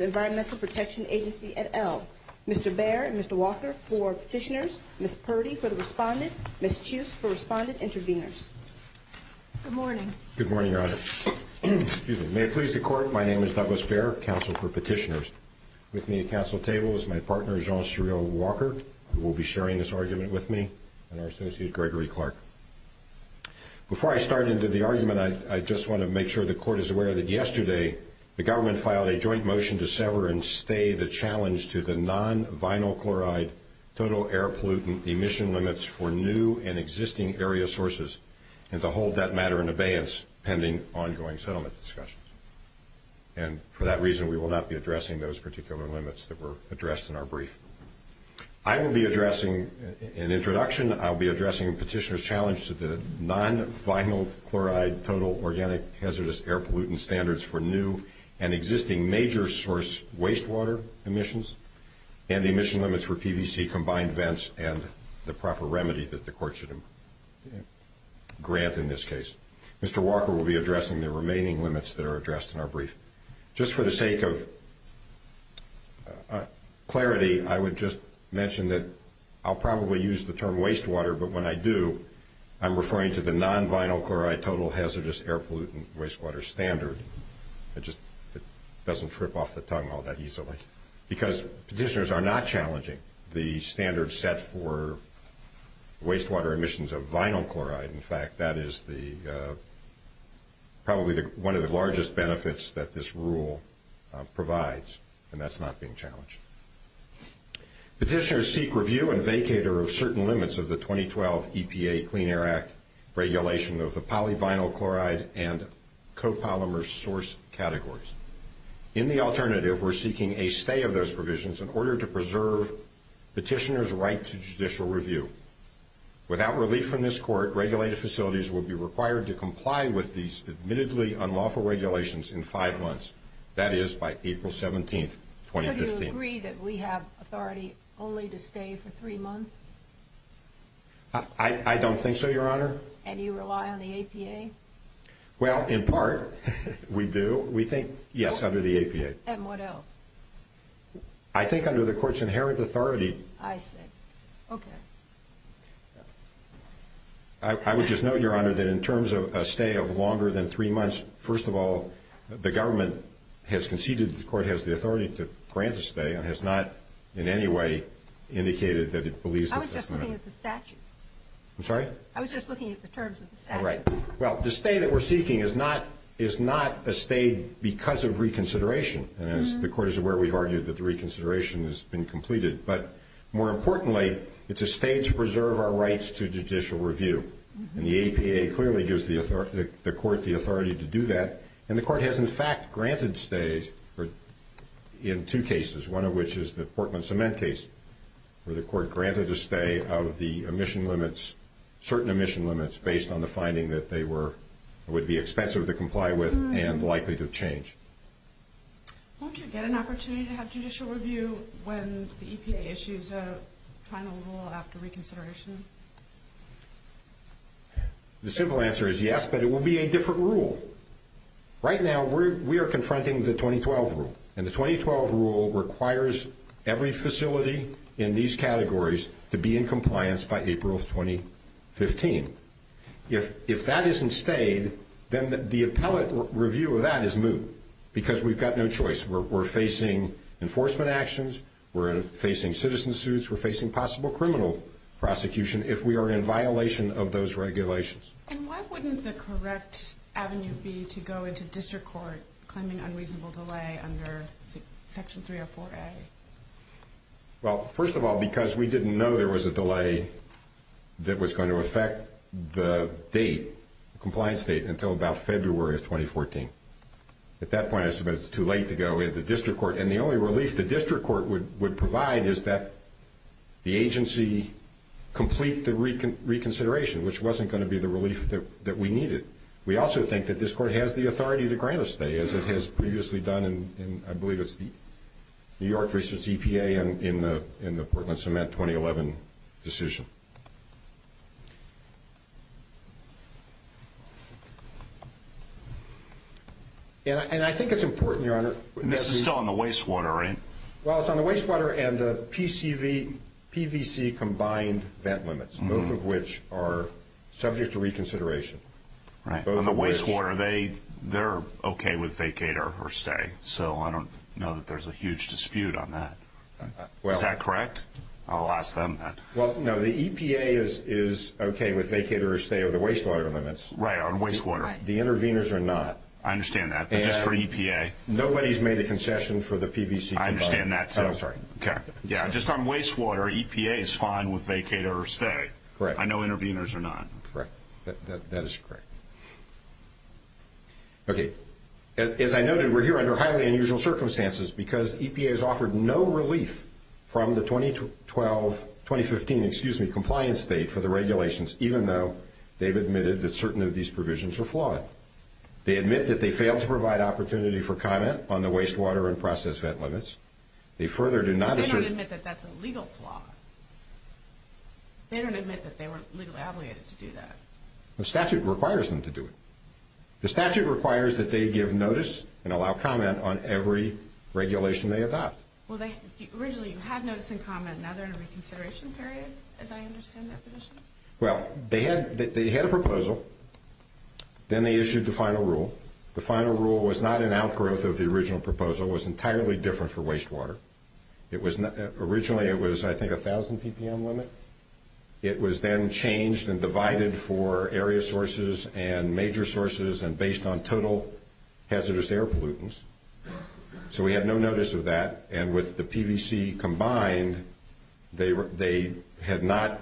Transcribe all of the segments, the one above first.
Environmental Protection Agency et al. Mr. Baer and Mr. Walker for Petitioners, Ms. Purdy for the Respondent, Ms. Chuse for Respondent Intervenors. Good morning. Good morning, Your Honor. May it please the Court, my name is Douglas Baer, Counsel for Petitioners. With me at the Council table is my partner, Jean-Cherieu Walker, who will be sharing this argument with us. Before I start into the argument, I just want to make sure the Court is aware that yesterday the government filed a joint motion to sever and stay the challenge to the non-vinyl chloride total air pollutant emission limits for new and existing area sources and to hold that matter in abeyance pending ongoing settlement discussions. And for that reason, we will not be addressing those particular limits that were addressed in our brief. I will be addressing, in introduction, I'll be addressing Petitioner's challenge to the non-vinyl chloride total organic hazardous air pollutant standards for new and existing major source wastewater emissions and the emission limits for PVC combined vents and the proper remedy that the Court should grant in this case. Mr. Walker will be addressing the remaining limits that are addressed in our brief. Just for the sake of clarity, I would just mention that I'll probably use the term wastewater, but when I do, I'm referring to the non-vinyl chloride total hazardous air pollutant wastewater standard. It just doesn't trip off the tongue all that easily. Because Petitioners are not challenging the standard set for wastewater emissions of vinyl chloride. In fact, that is probably one of the largest benefits that this rule provides, and that's not being challenged. Petitioners seek review and vacate certain limits of the 2012 EPA Clean Air Act regulation of the polyvinyl chloride and copolymer source categories. In the alternative, we're seeking a stay of those provisions in order to preserve Petitioner's right to judicial review. Without relief from this Court, regulated facilities will be required to comply with these admittedly unlawful regulations in five months. That is by April 17th, 2015. Do you agree that we have authority only to stay for three months? I don't think so, Your Honor. And you rely on the APA? Well, in part, we do. We think, yes, under the APA. And what else? I think under the Court's inherent authority. I see. Okay. I would just note, Your Honor, that in terms of a stay of longer than three months, first of all, the government has conceded that the Court has the authority to grant a stay, and has not in any way indicated that it believes that that's an option. I was just looking at the statute. I'm sorry? I was just looking at the terms of the statute. All right. Well, the stay that we're seeking is not a stay because of reconsideration. The Court is aware we've argued that the reconsideration has been completed. But more importantly, it's a stay to preserve our rights to judicial review. And the APA clearly gives the Court the authority to do that. And the Court has, in fact, granted stays in two cases, one of which is the Portman-Cement case. The Court granted a stay out of the emission limits, certain emission limits, based on the finding that they would be expensive to comply with and likely to change. Won't you get an opportunity to have judicial review when the EPA issues a final rule after reconsideration? The simple answer is yes, but it will be a different rule. Right now, we are confronting the 2012 rule. And the 2012 rule requires every facility in these categories to be in compliance by April of 2015. If that isn't stayed, then the appellate review of that is moot because we've got no choice. We're facing enforcement actions. We're facing citizen suits. We're facing possible criminal prosecution if we are in violation of those regulations. And why wouldn't the correct avenue be to go into District Court claiming unreasonable delay under Section 304A? Well, first of all, because we didn't know there was a delay that was going to affect the date, the compliance date, until about February of 2014. At that point, I suppose it's too late to go into District Court. And the only relief the District Court would provide is that the agency complete the reconsideration, which wasn't going to be the relief that we needed. We also think that this Court has the authority to grant a stay, as it has previously done in, I believe it's New York v. EPA in the Portland CEMET 2011 decision. And I think it's important, Your Honor. This is still in the wastewater, right? Well, it's on the wastewater and the PCV, PVC combined vent limits, both of which are subject to reconsideration. On the wastewater, they're okay with vacate or stay. So, I don't know that there's a huge dispute on that. Is that correct? I'll ask them, then. Well, no. The EPA is okay with vacate or stay of the wastewater limits. Right, on wastewater. The interveners are not. I understand that. Just for EPA. Nobody's made a concession for the PVC. I understand that, too. I'm sorry. Okay. Yeah, just on wastewater, EPA is fine with vacate or stay. I know interveners are not. Correct. That is correct. Okay. As I noted, we're here under highly unusual circumstances because EPA has offered no relief from the 2012, 2015, excuse me, compliance date for the regulations, even though they've admitted that certain of these provisions are flawed. They admit that they failed to provide opportunity for comment on the wastewater and process vent limits. They further do not... They don't admit that that's a legal flaw. They don't admit that they were legally obligated to do that. The statute requires them to do it. The statute requires that they give notice and allow comment on every regulation they adopt. Well, they... Originally, you had notes and comment. Now, they're in a reconsideration period, as I understand that position. Well, they had a proposal. Then, they issued the final rule. The final rule was not an outgrowth of the original proposal. It was entirely different for wastewater. It was... Originally, it was, I think, 1,000 ppm limit. It was then changed and divided for area sources and major sources and based on total hazardous air pollutants. So, we had no notice of that. And with the PVC combined, they had not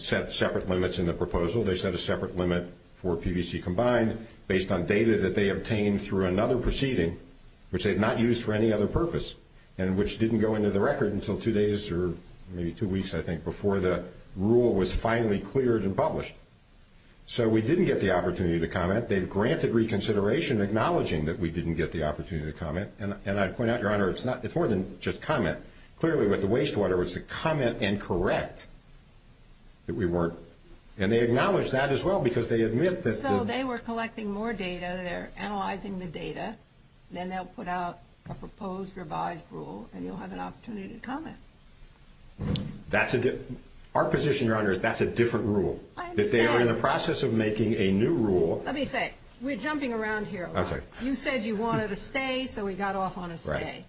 set separate limits in the proposal. They set a separate limit for PVC combined based on data that they obtained through another proceeding, which they had not used for any other purpose. And which didn't go into the record until two days or maybe two weeks, I think, before the rule was finally cleared and published. So, we didn't get the opportunity to comment. They granted reconsideration, acknowledging that we didn't get the opportunity to comment. And I'd point out, Your Honor, it's not... It's more than just comment. Clearly, with the wastewater, it was to comment and correct that we weren't... And they acknowledged that, as well, because they admit that... So, they were collecting more data. They're analyzing the data. Then they'll put out a proposed revised rule, and you'll have an opportunity to comment. Our position, Your Honor, is that's a different rule. That they were in the process of making a new rule... Let me say, we're jumping around here. You said you wanted a stay, so we got off on a stay.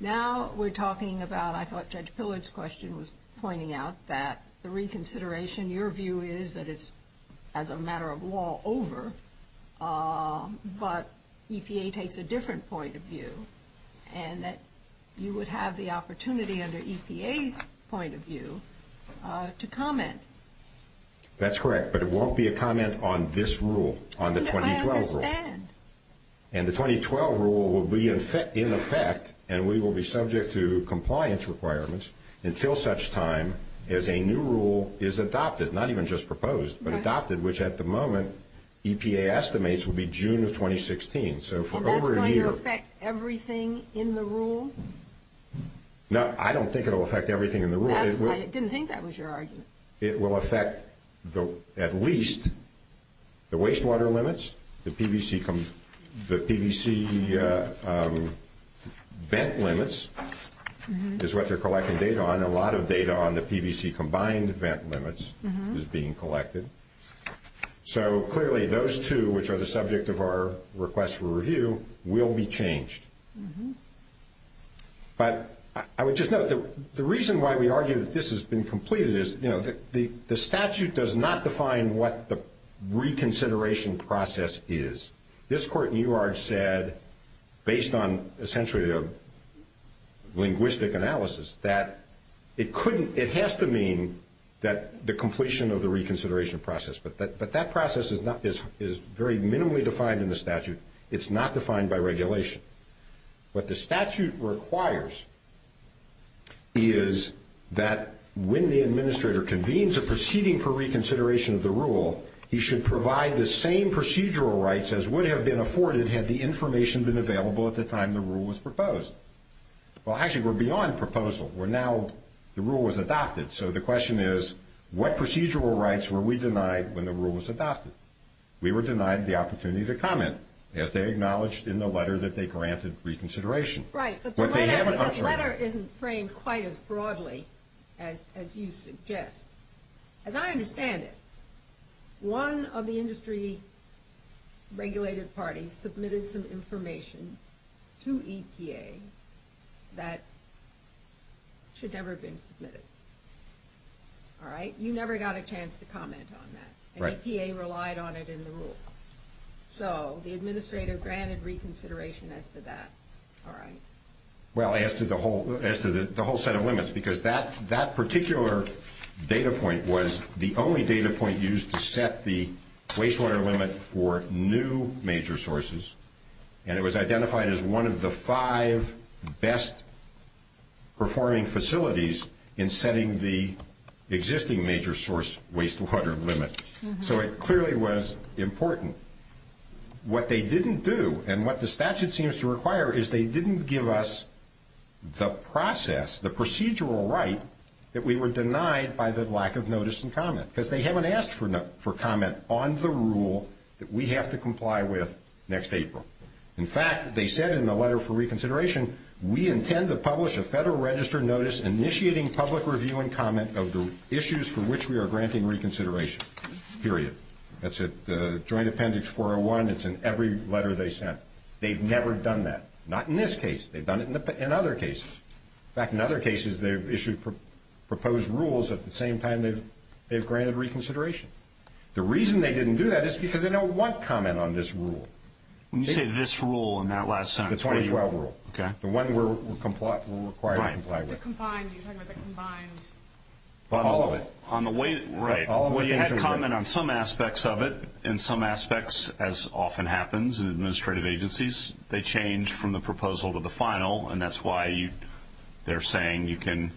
Now, we're talking about... I thought Judge Pillard's question was pointing out that the reconsideration, your view is that it's, as a matter of law, over. But EPA takes a different point of view, and that you would have the opportunity, under EPA's point of view, to comment. That's correct, but it won't be a comment on this rule, on the 2012 rule. I understand. And the 2012 rule will be in effect, and we will be subject to compliance requirements, until such time as a new rule is adopted. Not even just proposed, but adopted, which, at the moment, EPA estimates will be June of 2016. So, for over a year... Is that going to affect everything in the rule? No, I don't think it will affect everything in the rule. I didn't think that was your argument. It will affect at least the wastewater limits, the PVC bent limits, is what they're collecting data on. A lot of data on the PVC combined bent limits is being collected. So, clearly, those two, which are the subject of our request for review, will be changed. But I would just note, the reason why we argue that this has been completed is, you know, the statute does not define what the reconsideration process is. This court in New York said, based on, essentially, a linguistic analysis, that it has to mean the completion of the reconsideration process. But that process is very minimally defined in the statute. It's not defined by regulation. What the statute requires is that when the administrator convenes a proceeding for reconsideration of the rule, you should provide the same procedural rights as would have been afforded had the information been available at the time the rule was proposed. Well, actually, we're beyond proposal. We're now... The rule was adopted. So, the question is, what procedural rights were we denied when the rule was adopted? We were denied the opportunity to comment, as they acknowledged in the letter that they granted reconsideration. Right. But the letter isn't framed quite as broadly as you suggest. As I understand it, one of the industry-regulated parties submitted some information to EPA that should never have been submitted. All right? You never got a chance to comment on that. Right. And EPA relied on it in the rule. So, the administrator granted reconsideration as to that. All right. Well, as to the whole set of limits. Because that particular data point was the only data point used to set the waste water limit for new major sources. And it was identified as one of the five best-performing facilities in setting the existing major source waste water limit. So, it clearly was important. What they didn't do, and what the statute seems to require, is they didn't give us the process, the procedural right, that we were denied by the lack of notice and comment. Because they haven't asked for comment on the rule that we have to comply with next April. In fact, they said in the letter for reconsideration, we intend to publish a federal registered notice initiating public review and comment of the issues for which we are granting reconsideration. Period. That's it. The Joint Appendix 401, it's in every letter they sent. They've never done that. Not in this case. They've done it in other cases. In fact, in other cases, they've issued proposed rules at the same time they've granted reconsideration. The reason they didn't do that is because they don't want comment on this rule. You said this rule in that last sentence. The 2012 rule. Okay. The one we're required to comply with. Right. The combined. You're talking about the combined. All of it. Right. We had comment on some aspects of it. In some aspects, as often happens in administrative agencies, they change from the proposal to the final. And that's why they're saying you can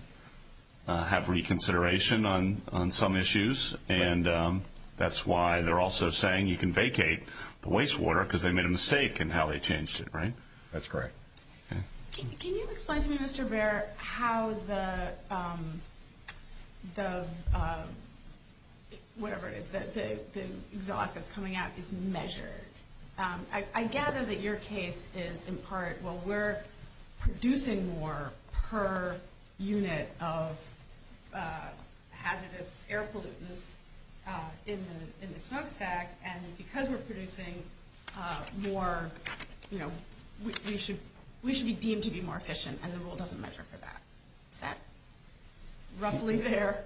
have reconsideration on some issues. And that's why they're also saying you can vacate the wastewater because they made a mistake in how they changed it. Right? That's correct. Okay. Can you explain to me, Mr. Bair, how the, the, whatever it is, the ZOC that's coming out is measured? I gather that your case is in part, well, we're producing more per unit of hazardous air pollutants in the snow stack, and because we're producing more, you know, we should be deemed to be more efficient. And the rule doesn't measure for that. Is that roughly fair?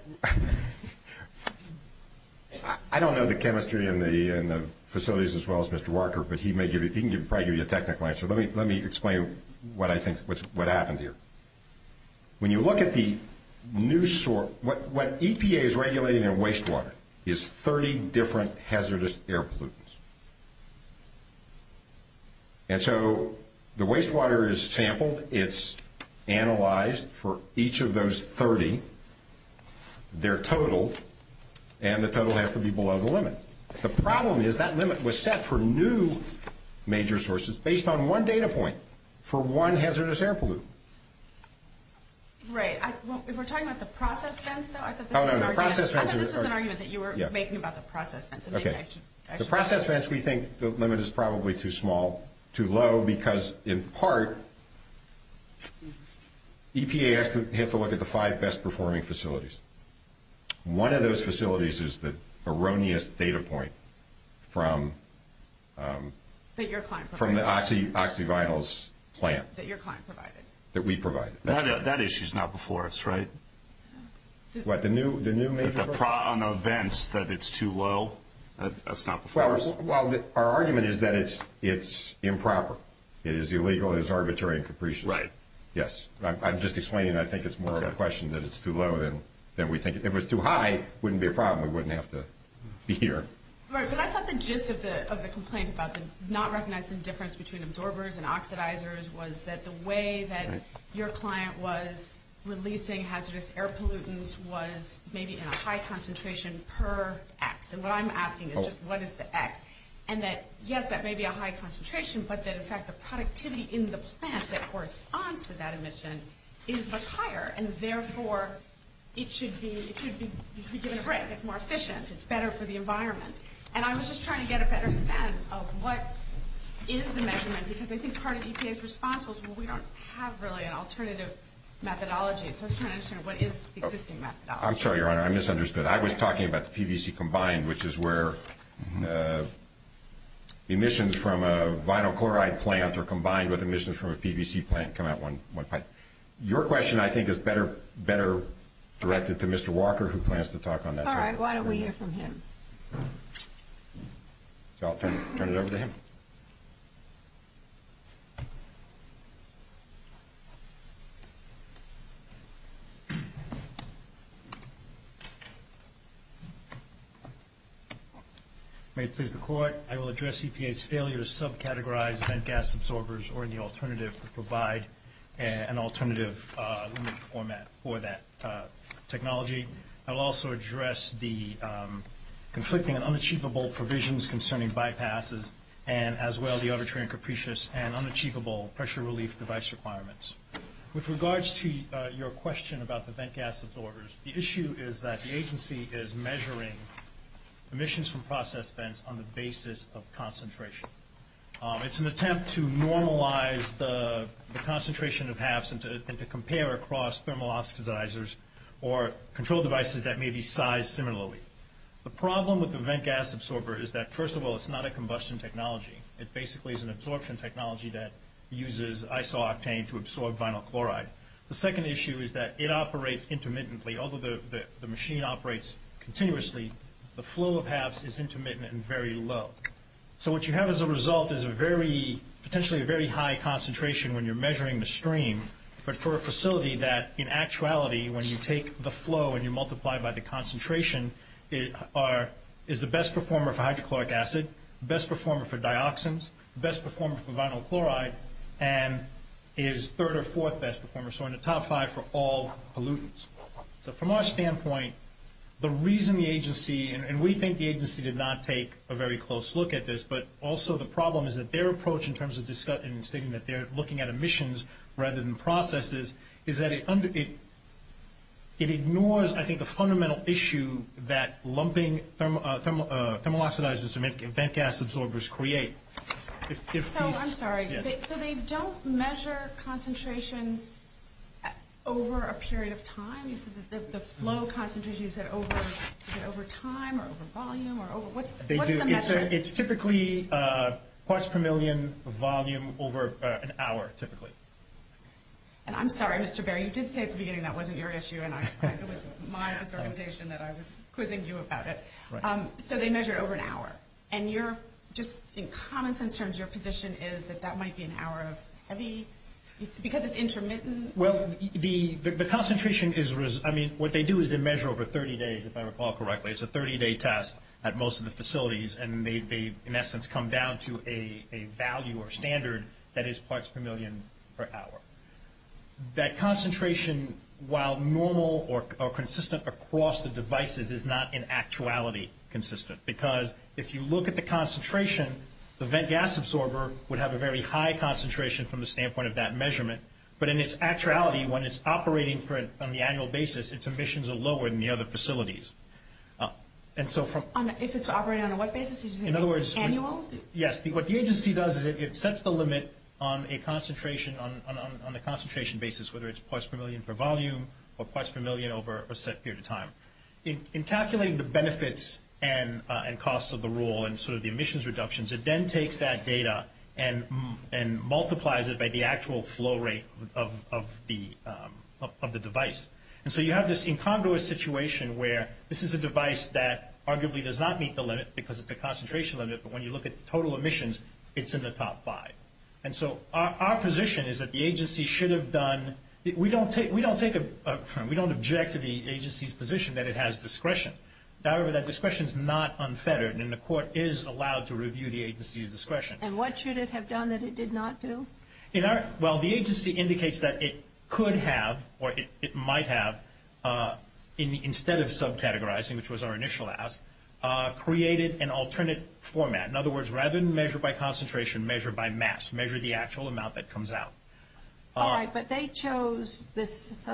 I don't know the chemistry in the facilities as well as Mr. Walker, but he can probably give you a technical answer. Let me explain what I think, what happened here. When you look at the new, what EPA is regulating in wastewater is 30 different hazardous air pollutants. And so the wastewater is sampled. It's analyzed for each of those 30. They're totaled, and the total has to be below the limit. The problem is that limit was set for new major sources based on one data point for one hazardous air pollutant. Right. If we're talking about the process fence, though, I suppose that's an argument that you were making about the process fence. Okay. The process fence we think the limit is probably too small, too low, because in part, EPA has to look at the five best performing facilities. One of those facilities is the erroneous data point from the oxy, oxy vinyls plant. That your client provided. That we provided. That issue is not before us, right? What, the new major? The problem of fence, that it's too low, that's not before us. Well, our argument is that it's improper. It is illegal. It is arbitrary and capricious. Right. Yes. I'm just explaining. I think it's more of a question that it's too low than we think. If it was too high, it wouldn't be a problem. We wouldn't have to be here. Right. But that's not the gist of the complaint about the not recognizing the difference between absorbers and oxidizers was that the way that your client was releasing hazardous air pollutants was maybe in a high concentration per X. And what I'm asking is just what is the X? And that, yes, that may be a high concentration, but that in fact the productivity in the plant that corresponds to that emission is much higher. And therefore, it should be given a break. It's more efficient. It's better for the environment. And I was just trying to get a better sense of what is the measurement. Because I think part of EPA's response was, well, we don't have really an alternative methodology. So I was trying to understand what is the existing methodology. I'm sorry, Your Honor. I misunderstood. I was talking about the PVC combined, which is where emissions from a vinyl chloride plant are combined with emissions from a PVC plant. Your question, I think, is better directed to Mr. Walker, who plans to talk on that. All right. Why don't we hear from him? So I'll turn it over to him. May it please the Court, I will address EPA's failure to subcategorize bent gas absorbers or the alternative to provide an alternative limit format for that technology. I'll also address the conflicting and unachievable provisions concerning bypasses and, as well, the arbitrary and capricious and unachievable pressure relief device requirements. With regards to your question about the bent gas absorbers, the issue is that the agency is measuring emissions from process vents on the basis of concentration. It's an attempt to normalize the concentration of HAFs and to compare across thermal oxidizers or control devices that may be sized similarly. The problem with the bent gas absorber is that, first of all, it's not a combustion technology. It basically is an absorption technology that uses isooctane to absorb vinyl chloride. The second issue is that it operates intermittently. Although the machine operates continuously, the flow of HAFs is intermittent and very low. So what you have as a result is potentially a very high concentration when you're measuring the stream, but for a facility that, in actuality, when you take the flow and you multiply it by the concentration, is the best performer for hydrochloric acid, best performer for dioxins, best performer for vinyl chloride, and is third or fourth best performer, so in the top five for all pollutants. So from our standpoint, the reason the agency, and we think the agency did not take a very close look at this, but also the problem is that their approach in terms of discussing and stating that they're looking at emissions rather than processes is that it ignores, I think, the fundamental issue that lumping thermooxidizers to make bent gas absorbers create. So, I'm sorry, so they don't measure concentrations over a period of time? You said that the flow concentrations are over time or over volume, or what's the measure? It's typically parts per million volume over an hour, typically. And I'm sorry, Mr. Bair, you did say at the beginning that wasn't your issue, and I think it was my observation that I was quizzing you about it. So they measure over an hour, and your, just in comments in terms, your position is that that might be an hour of heavy, because it's intermittent? Well, the concentration is, I mean, what they do is they measure over 30 days, if I recall And they, in essence, come down to a value or standard that is parts per million per hour. That concentration, while normal or consistent across the devices, is not in actuality consistent, because if you look at the concentration, the bent gas absorber would have a very high concentration from the standpoint of that measurement, but in its actuality, when it's operating on the annual basis, its emissions are lower than the other facilities. And so from... If it's operating on a what basis? In other words... Annual? Yes. What the agency does is it sets the limit on a concentration, on the concentration basis, whether it's parts per million per volume or parts per million over a set period of time. In calculating the benefits and costs of the rule and sort of the emissions reductions, it then takes that data and multiplies it by the actual flow rate of the device. And so you have this incongruous situation where this is a device that arguably does not meet the limit because it's a concentration limit, but when you look at the total emissions, it's in the top five. And so our position is that the agency should have done... We don't take... We don't take a... We don't object to the agency's position that it has discretion. However, that discretion is not unfettered, and the court is allowed to review the agency's discretion. And what should it have done that it did not do? Well, the agency indicates that it could have, or it might have, instead of subcategorizing, which was our initial ask, created an alternate format. In other words, rather than measure by concentration, measure by mass. Measure the actual amount that comes out. All right, but they chose this...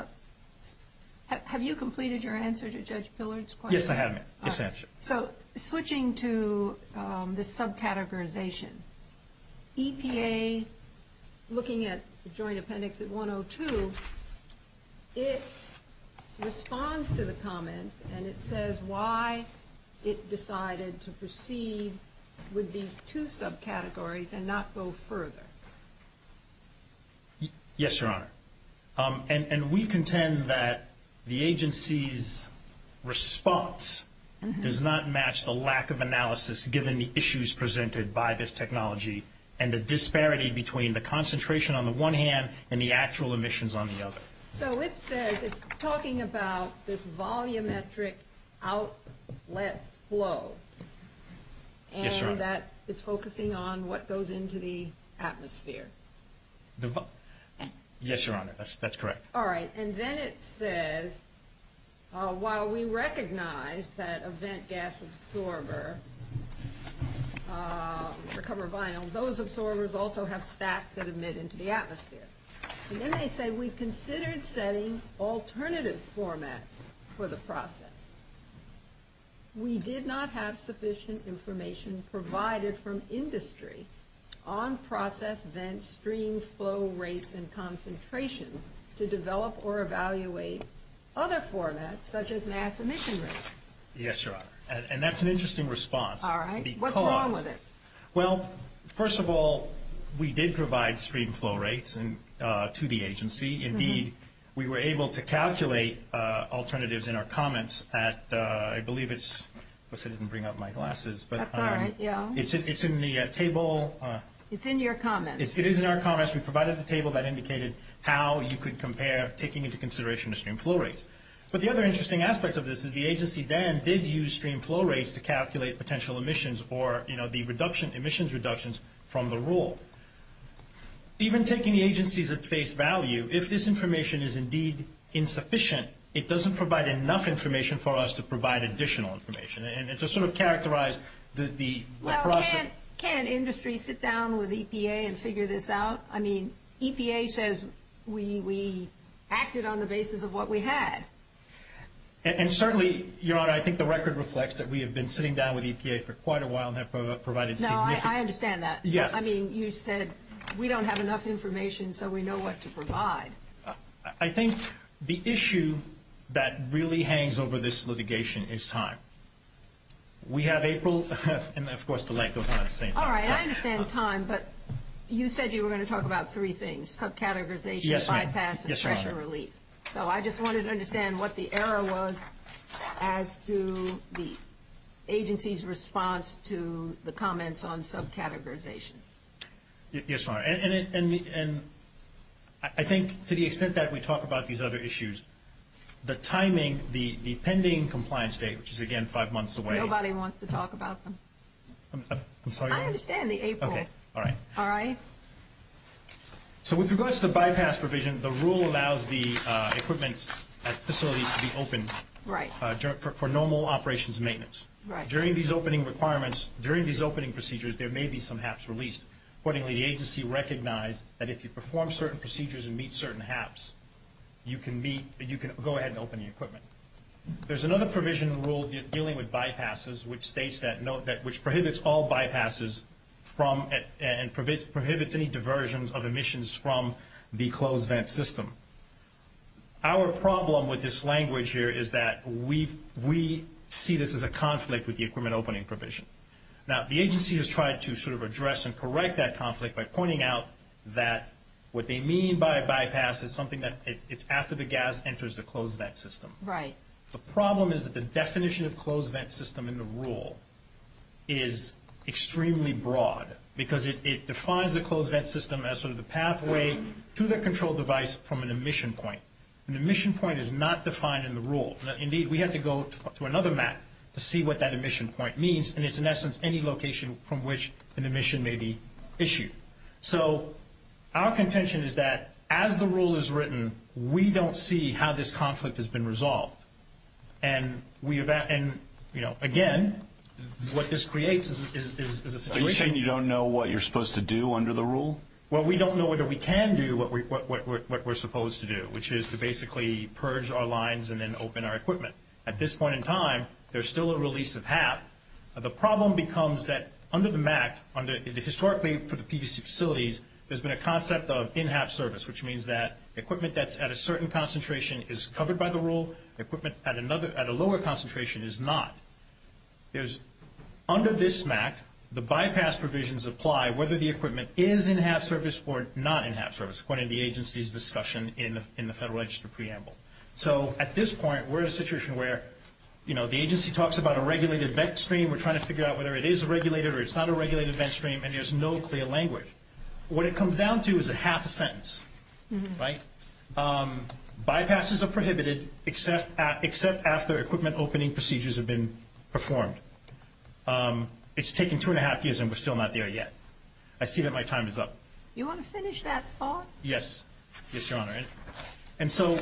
Have you completed your answer to Judge Pillard's question? Yes, I have. Yes, I have. So switching to the subcategorization, EPA, looking at the Joint Appendix at 102, it responds to the comments, and it says why it decided to proceed with these two subcategories and not go further. Yes, Your Honor. And we contend that the agency's response does not match the lack of analysis given the issues presented by this technology and the disparity between the concentration on the one hand and the actual emissions on the other. So it says it's talking about this volumetric outlet flow. Yes, Your Honor. And that is focusing on what goes into the atmosphere. Yes, Your Honor. That's correct. All right. And then it says, while we recognize that a vent gas absorber, which are covered vinyls, those absorbers also have stacks that emit into the atmosphere. And then they say, we considered setting alternative formats for the process. We did not have sufficient information provided from industry on process vent stream flow rates and concentrations to develop or evaluate other formats, such as mass emission rates. Yes, Your Honor. And that's an interesting response. All right. What's wrong with it? Well, first of all, we did provide stream flow rates to the agency. Indeed, we were able to calculate alternatives in our comments. I believe it's in the table. It's in your comments. It is in our comments. We provided the table that indicated how you could compare taking into consideration the stream flow rates. But the other interesting aspect of this is the agency then did use stream flow rates to calculate potential emissions or, you know, the emissions reductions from the rule. Even taking the agencies at face value, if this information is indeed insufficient, it doesn't provide enough information for us to provide additional information. And to sort of characterize the process... Well, can't industry sit down with EPA and figure this out? I mean, EPA says we acted on the basis of what we had. And certainly, Your Honor, I think the record reflects that we have been sitting down with EPA for quite a while and have provided... No, I understand that. Yes. I mean, you said we don't have enough information so we know what to provide. I think the issue that really hangs over this litigation is time. We have April and, of course, the length of time at the same time. All right. I understand time, but you said you were going to talk about three things, subcategorization, bypass, and pressure relief. Yes, ma'am. Yes, Your Honor. So I just wanted to understand what the error was as to the agency's response to the comments on subcategorization. Yes, Your Honor. And I think to the extent that we talk about these other issues, the timing, the pending compliance date, which is, again, five months away... Nobody wants to talk about them. I'm sorry, Your Honor? I understand the April. Okay. All right. All right? So with regards to the bypass provision, the rule allows the equipment facility to be opened... Right. ...for normal operations and maintenance. Right. During these opening requirements, during these opening procedures, there may be some HAPs released. Accordingly, the agency recognized that if you perform certain procedures and meet certain HAPs, you can go ahead and open the equipment. There's another provision in the rule dealing with bypasses, which states that... Which prohibits all bypasses from... And prohibits any diversions of emissions from the closed vent system. Our problem with this language here is that we see this as a conflict with the equipment opening provision. Now, the agency has tried to sort of address and correct that conflict by pointing out that what they mean by a bypass is something that it's after the gas enters the closed vent system. Right. The problem is that the definition of closed vent system in the rule is extremely broad because it defines the closed vent system as sort of the pathway to the control device from an emission point. An emission point is not defined in the rule. Indeed, we have to go to another map to see what that emission point means. And it's, in essence, any location from which an emission may be issued. So, our contention is that as the rule is written, we don't see how this conflict has been resolved. And we... And, you know, again, what this creates is a situation... Are you saying you don't know what you're supposed to do under the rule? Well, we don't know whether we can do what we're supposed to do, which is to basically purge our lines and then open our equipment. At this point in time, there's still a release of HAP. So, the problem becomes that under the MAC, historically for the PDC facilities, there's been a concept of in-HAP service, which means that equipment that's at a certain concentration is covered by the rule. Equipment at another... At a lower concentration is not. There's... Under this MAC, the bypass provisions apply whether the equipment is in-HAP service or not in-HAP service, according to the agency's discussion in the Federal Register preamble. So, at this point, we're in a situation where, you know, the agency talks about a regulated VET stream. We're trying to figure out whether it is regulated or it's not a regulated VET stream, and there's no clear language. What it comes down to is a HAP sentence, right? Bypasses are prohibited except after equipment opening procedures have been performed. It's taken two and a half years and we're still not there yet. I see that my time is up. You want to finish that thought? Yes. Yes, Your Honor. And so,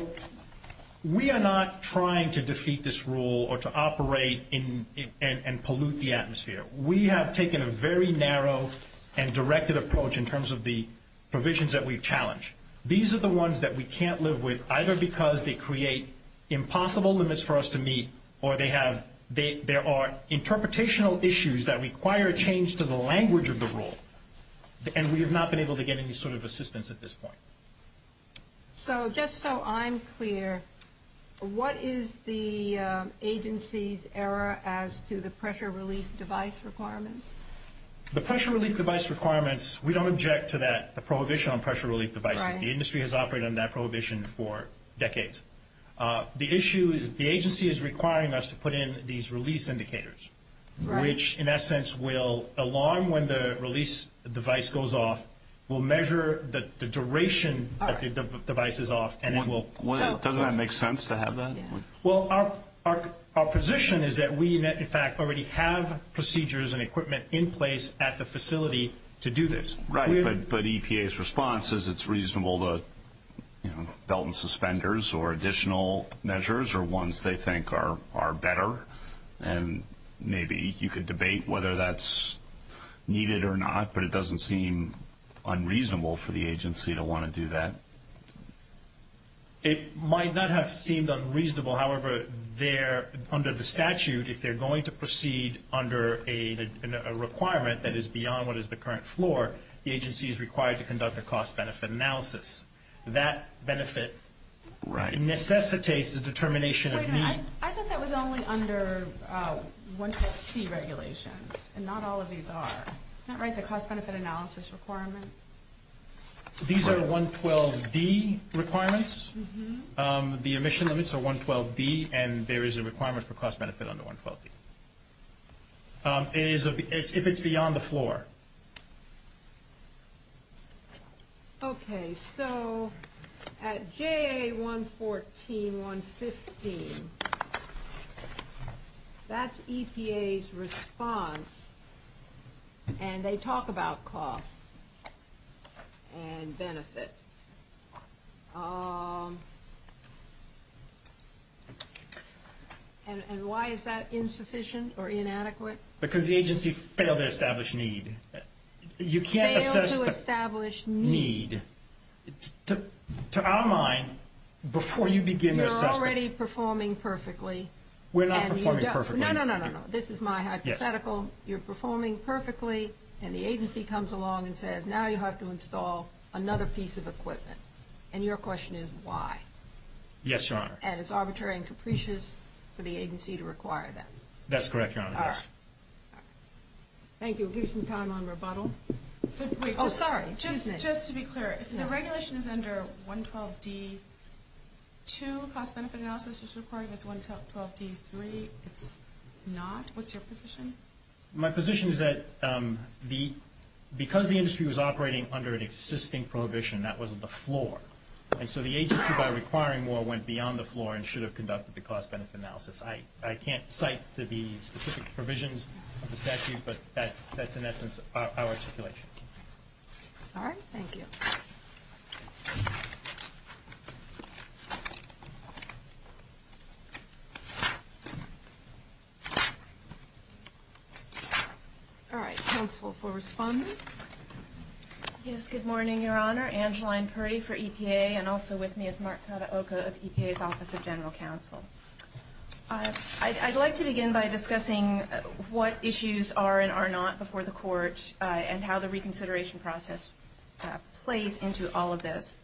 we are not trying to defeat this rule or to operate and pollute the atmosphere. We have taken a very narrow and directed approach in terms of the provisions that we've challenged. These are the ones that we can't live with either because they create impossible limits for us to meet or they have...there are interpretational issues that require a change to the language of the rule, and we have not been able to get any sort of assistance at this point. So, just so I'm clear, what is the agency's error as to the pressure relief device requirements? The pressure relief device requirements, we don't object to that prohibition on pressure relief devices. The industry has operated on that prohibition for decades. The issue is the agency is requiring us to put in these release indicators, which in essence will, along when the release device goes off, will measure the duration that the device is off and it will... Doesn't that make sense to have that? Well, our position is that we in fact already have procedures and equipment in place at the facility to do this. Right. But EPA's response is it's reasonable to, you know, belt and suspenders or additional measures or ones they think are better, and maybe you could debate whether that's needed or not, but it doesn't seem unreasonable for the agency to want to do that. It might not have seemed unreasonable. However, under the statute, if they're going to proceed under a requirement that is beyond what is the current floor, the agency is required to conduct a cost-benefit analysis. That benefit necessitates the determination of... I thought that was only under 112C regulations, and not all of these are. Isn't that right, the cost-benefit analysis requirement? These are 112D requirements. The emission limits are 112D, and there is a requirement for cost-benefit under 112D. If it's beyond the floor. Okay. So at JA114, 115, that's EPA's response, and they talk about cost and benefit. And why is that insufficient or inadequate? Because the agency failed to establish need. Failed to establish need. To our mind, before you begin this document... We're already performing perfectly. We're not performing perfectly. No, no, no, no, no. This is my hypothetical. You're performing perfectly, and the agency comes along and says, now you have to install another piece of equipment. And your question is, why? Yes, Your Honor. And it's arbitrary and capricious for the agency to require that. That's correct, Your Honor. All right. Thank you. Give me some time on rebuttal. Oh, sorry. Excuse me. Just to be clear, if the regulation is under 112D2, cost-benefit analysis is required with 112D3. If it's not, what's your position? My position is that because the industry was operating under an existing prohibition, that wasn't the floor. And so the agency, by requiring more, went beyond the floor and should have conducted the cost-benefit analysis. I can't cite the specific provisions of the statute, but that's, in essence, our speculation. All right. Thank you. All right. Counsel for response? Yes. Good morning, Your Honor. Angeline Curry for EPA, and also with me is Mark Sadaoka of EPA's Office of General Counsel. I'd like to begin by discussing what issues are and are not before the Court, and how the reconsideration process plays into all of this.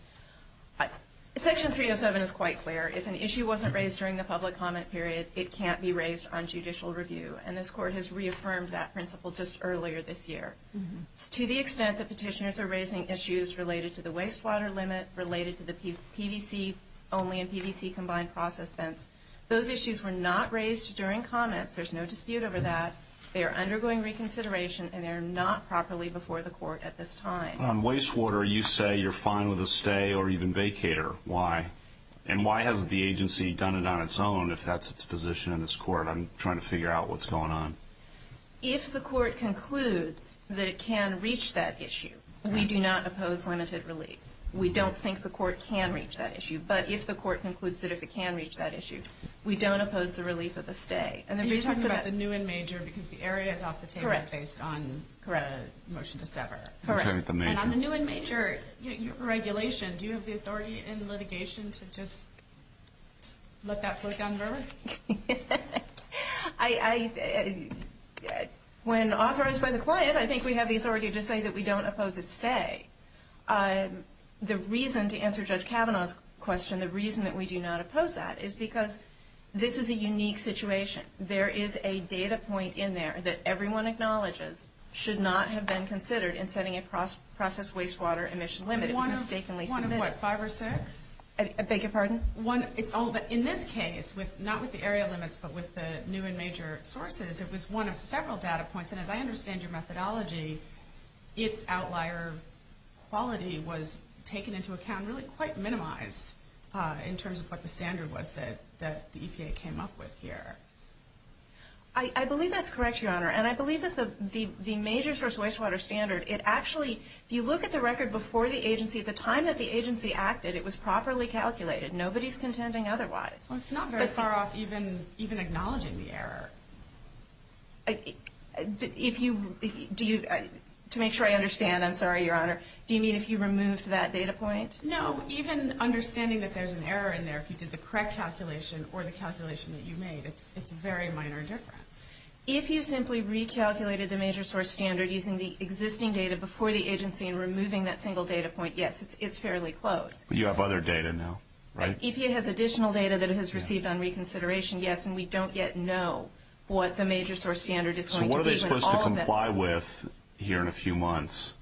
Section 307 is quite clear. If an issue wasn't raised during the public comment period, it can't be raised on judicial review. And this Court has reaffirmed that principle just earlier this year. To the extent that petitioners are raising issues related to the wastewater limit, related to the PVC only and PVC combined process fence, those issues were not raised during comments. There's no dispute over that. They are undergoing reconsideration, and they are not properly before the Court at this time. On wastewater, you say you're fine with a stay or even vacater. Why? And why hasn't the agency done it on its own, if that's its position in this Court? I'm trying to figure out what's going on. If the Court concludes that it can reach that issue, we do not oppose limited release. We don't think the Court can reach that issue. But if the Court concludes that it can reach that issue, we don't oppose the release of a stay. You're talking about the new and major, because the area is off the table based on the motion to sever. Correct. And on the new and major regulation, do you have the authority in litigation to just let that flick on and go? When authorized by the client, I think we have the authority to say that we don't oppose a stay. The reason, to answer Judge Kavanaugh's question, the reason that we do not oppose that is because this is a unique situation. There is a data point in there that everyone acknowledges should not have been considered in setting a process wastewater emission limit. One of what? Five or six? I beg your pardon? In this case, not with the area limits, but with the new and major sources, it was one of several data points. And as I understand your methodology, its outlier quality was taken into account really quite minimized in terms of what the standard was that the EPA came up with here. I believe that's correct, Your Honor. And I believe that the major source wastewater standard, it actually, if you look at the record before the agency, the time that the agency acted, it was properly calculated. Nobody's contending otherwise. Well, it's not very far off even acknowledging the error. To make sure I understand, I'm sorry, Your Honor, do you mean if you removed that data point? No. Even understanding that there's an error in there, if you did the correct calculation or the calculation that you made, it's a very minor difference. If you simply recalculated the major source standard using the existing data before the agency and removing that single data point, yes, it's fairly close. But you have other data now, right? EPA has additional data that it has received on reconsideration, yes, and we don't yet know what the major source standard is going to be. So what are they supposed to comply with here in a few months?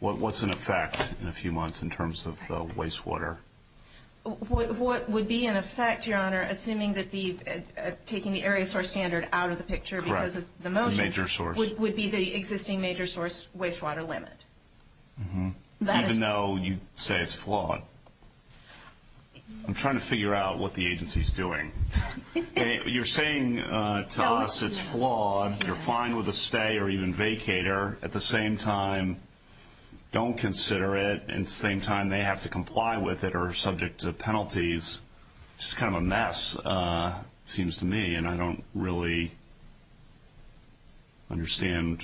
What's in effect in a few months in terms of the wastewater? What would be in effect, Your Honor, assuming that these, taking the area source standard out of the picture because it's the most... The major source. ...would be the existing major source wastewater limit. Even though you say it's flawed. I'm trying to figure out what the agency is doing. You're saying to us it's flawed. You're fine with a stay or even vacator. At the same time, don't consider it. At the same time, they have to comply with it or are subject to penalties. It's kind of a mess, it seems to me, and I don't really understand.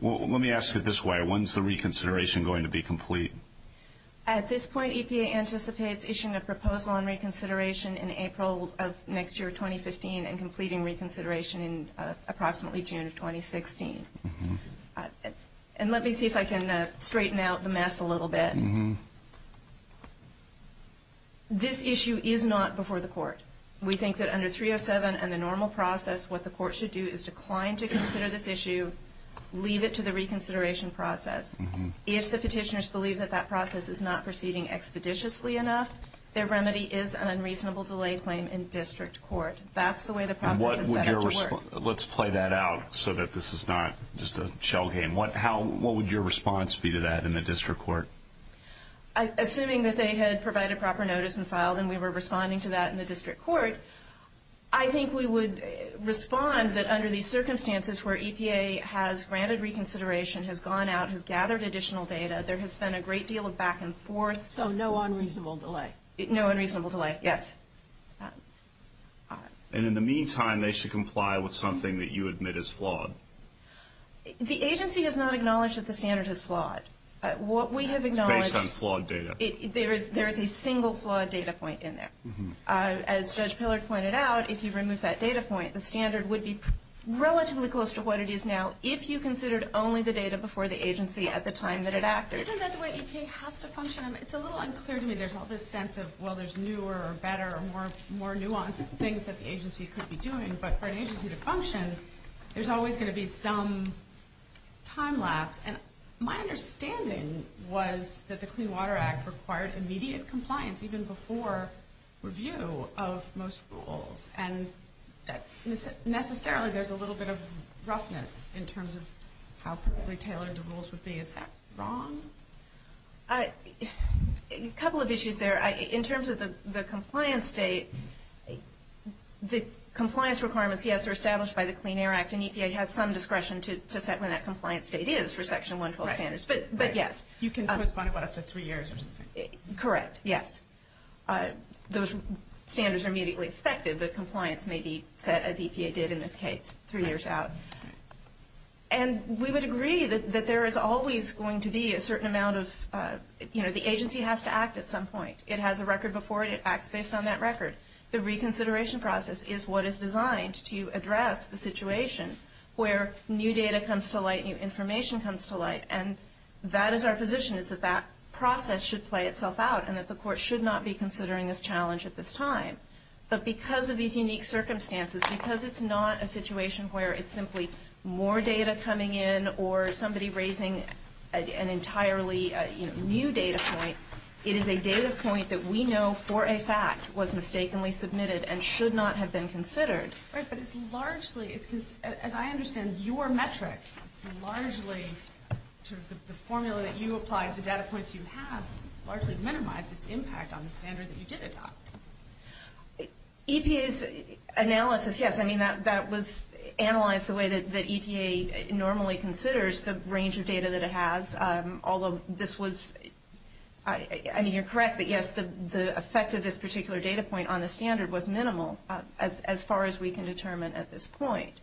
Let me ask it this way. When's the reconsideration going to be complete? At this point, EPA anticipates issuing a proposal on reconsideration in April of next year, 2015, and completing reconsideration in approximately June of 2016. And let me see if I can straighten out the mess a little bit. Mm-hmm. This issue is not before the court. We think that under 307 and the normal process, what the court should do is decline to consider this issue, leave it to the reconsideration process. If the petitioners believe that that process is not proceeding expeditiously enough, their remedy is an unreasonable delay claim in district court. That's the way the process is set to work. Let's play that out so that this is not just a shell game. What would your response be to that in the district court? Assuming that they had provided proper notice and filed and we were responding to that in the district court, I think we would respond that under these circumstances where EPA has granted reconsideration, has gone out, has gathered additional data, there has been a great deal of back and forth. So no unreasonable delay. No unreasonable delay, yes. And in the meantime, they should comply with something that you admit is flawed. The agency does not acknowledge that the standard is flawed. Based on flawed data. There is a single flawed data point in there. As Judge Pillard pointed out, if you remove that data point, the standard would be relatively close to what it is now if you considered only the data before the agency at the time that it acted. Isn't that the way EPA has to function? It's a little unclear to me. There's all this sense of, well, there's newer or better or more nuanced things that the agency could be doing. But for an agency to function, there's always going to be some time lapse. My understanding was that the Clean Water Act required immediate compliance even before review of most rules. And necessarily, there's a little bit of roughness in terms of how perfectly tailored the rules would be. Is that wrong? A couple of issues there. In terms of the compliance date, the compliance requirements, yes, are established by the Clean Air Act. And EPA has some discretion to set what that compliance date is for Section 112 standards. But yes. You can postpone it by up to three years. Correct. Yes. Those standards are immediately expected. The compliance may be set as EPA did in this case, three years out. And we would agree that there is always going to be a certain amount of the agency has to act at some point. It has a record before it. It acts based on that record. The reconsideration process is what is designed to address the situation where new data comes to light, new information comes to light. And that is our position is that that process should play itself out and that the court should not be considering this challenge at this time. But because of these unique circumstances, because it's not a situation where it's simply more data coming in or somebody raising an entirely new data point, it is a data point that we know for a fact was mistakenly submitted and should not have been considered. Right. But it's largely, as I understand your metrics, largely the formula that you apply to data points you have largely minimizes the impact on the standard that you get it on. EPA's analysis, yes. I mean, that was analyzed the way that EPA normally considers the range of data that it has. Although this was, I mean, you're correct that yes, the effect of this particular data point on the standard was minimal as far as we can determine at this point.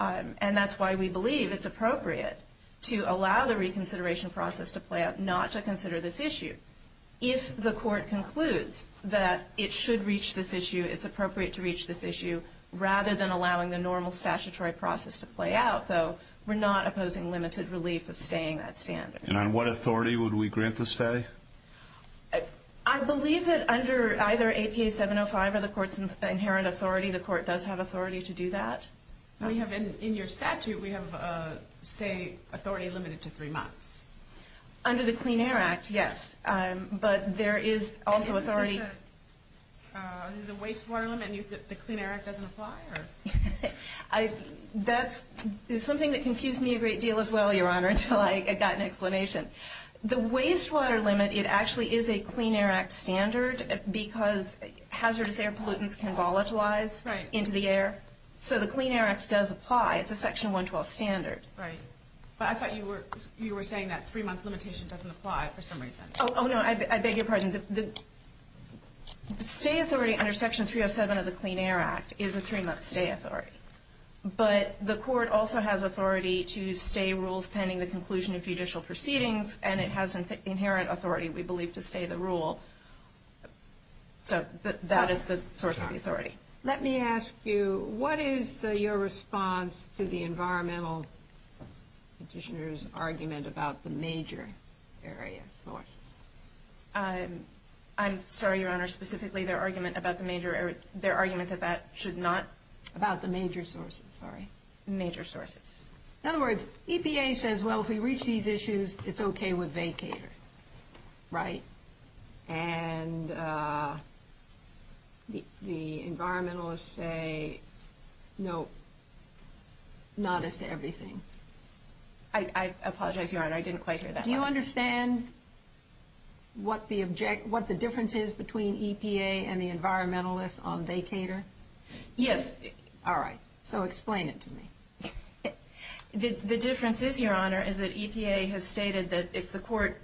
And that's why we believe it's appropriate to allow the reconsideration process to play out, not to consider this issue. If the court concludes that it should reach this issue, it's appropriate to reach this issue, rather than allowing the normal statutory process to play out. So we're not opposing limited relief of staying that stance. And on what authority would we grant the stay? I believe that under either APA 705 or the court's inherent authority, the court does have authority to do that. In your statute we have, say, authority limited to three months. Under the Clean Air Act, yes. But there is also authority... Is it a wastewater limit? The Clean Air Act doesn't apply? That's something that confused me a great deal as well, Your Honor, until I got an explanation. The wastewater limit, it actually is a Clean Air Act standard because hazardous air pollutants can volatilize into the air. So the Clean Air Act does apply. It's a Section 112 standard. Right. But I thought you were saying that three-month limitation doesn't apply for some reason. Oh, no. I beg your pardon. The stay authority under Section 307 of the Clean Air Act is a three-month stay authority. But the court also has authority to stay rules depending on the conclusion of judicial proceedings and it has an inherent authority, we believe, to stay the rule. So that is the source of the authority. Let me ask you, what is your response to the environmental petitioner's argument about the major area source? I'm sorry, Your Honor, specifically their argument that that should not... About the major sources, sorry. The major sources. In other words, EPA says, well, if we reach these issues, it's okay with vacators. Right? And the environmentalists say, no. Not as to everything. I apologize, Your Honor. I didn't quite hear that. Do you understand what the difference is between EPA and the environmentalists on vacators? Yes. All right. So explain it to me. The difference is, Your Honor, is that EPA has stated that if the court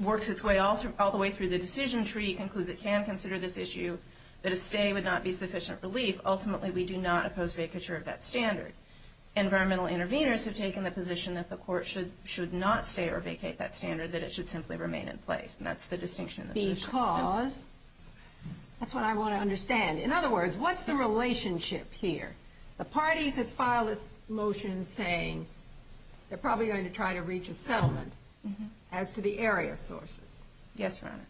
works its way all the way through the decision tree and concludes it can consider this issue, that a stay would not be sufficient relief. Ultimately, we do not oppose vacature of that standard. Environmental intervenors have taken the position that the court should not stay or vacate that standard, that it should simply remain in place. That's the distinction. Because... That's what I want to understand. In other words, what's the relationship here? The parties that filed this motion saying they're probably going to try to reach a settlement as to the area sources. Yes, Your Honor.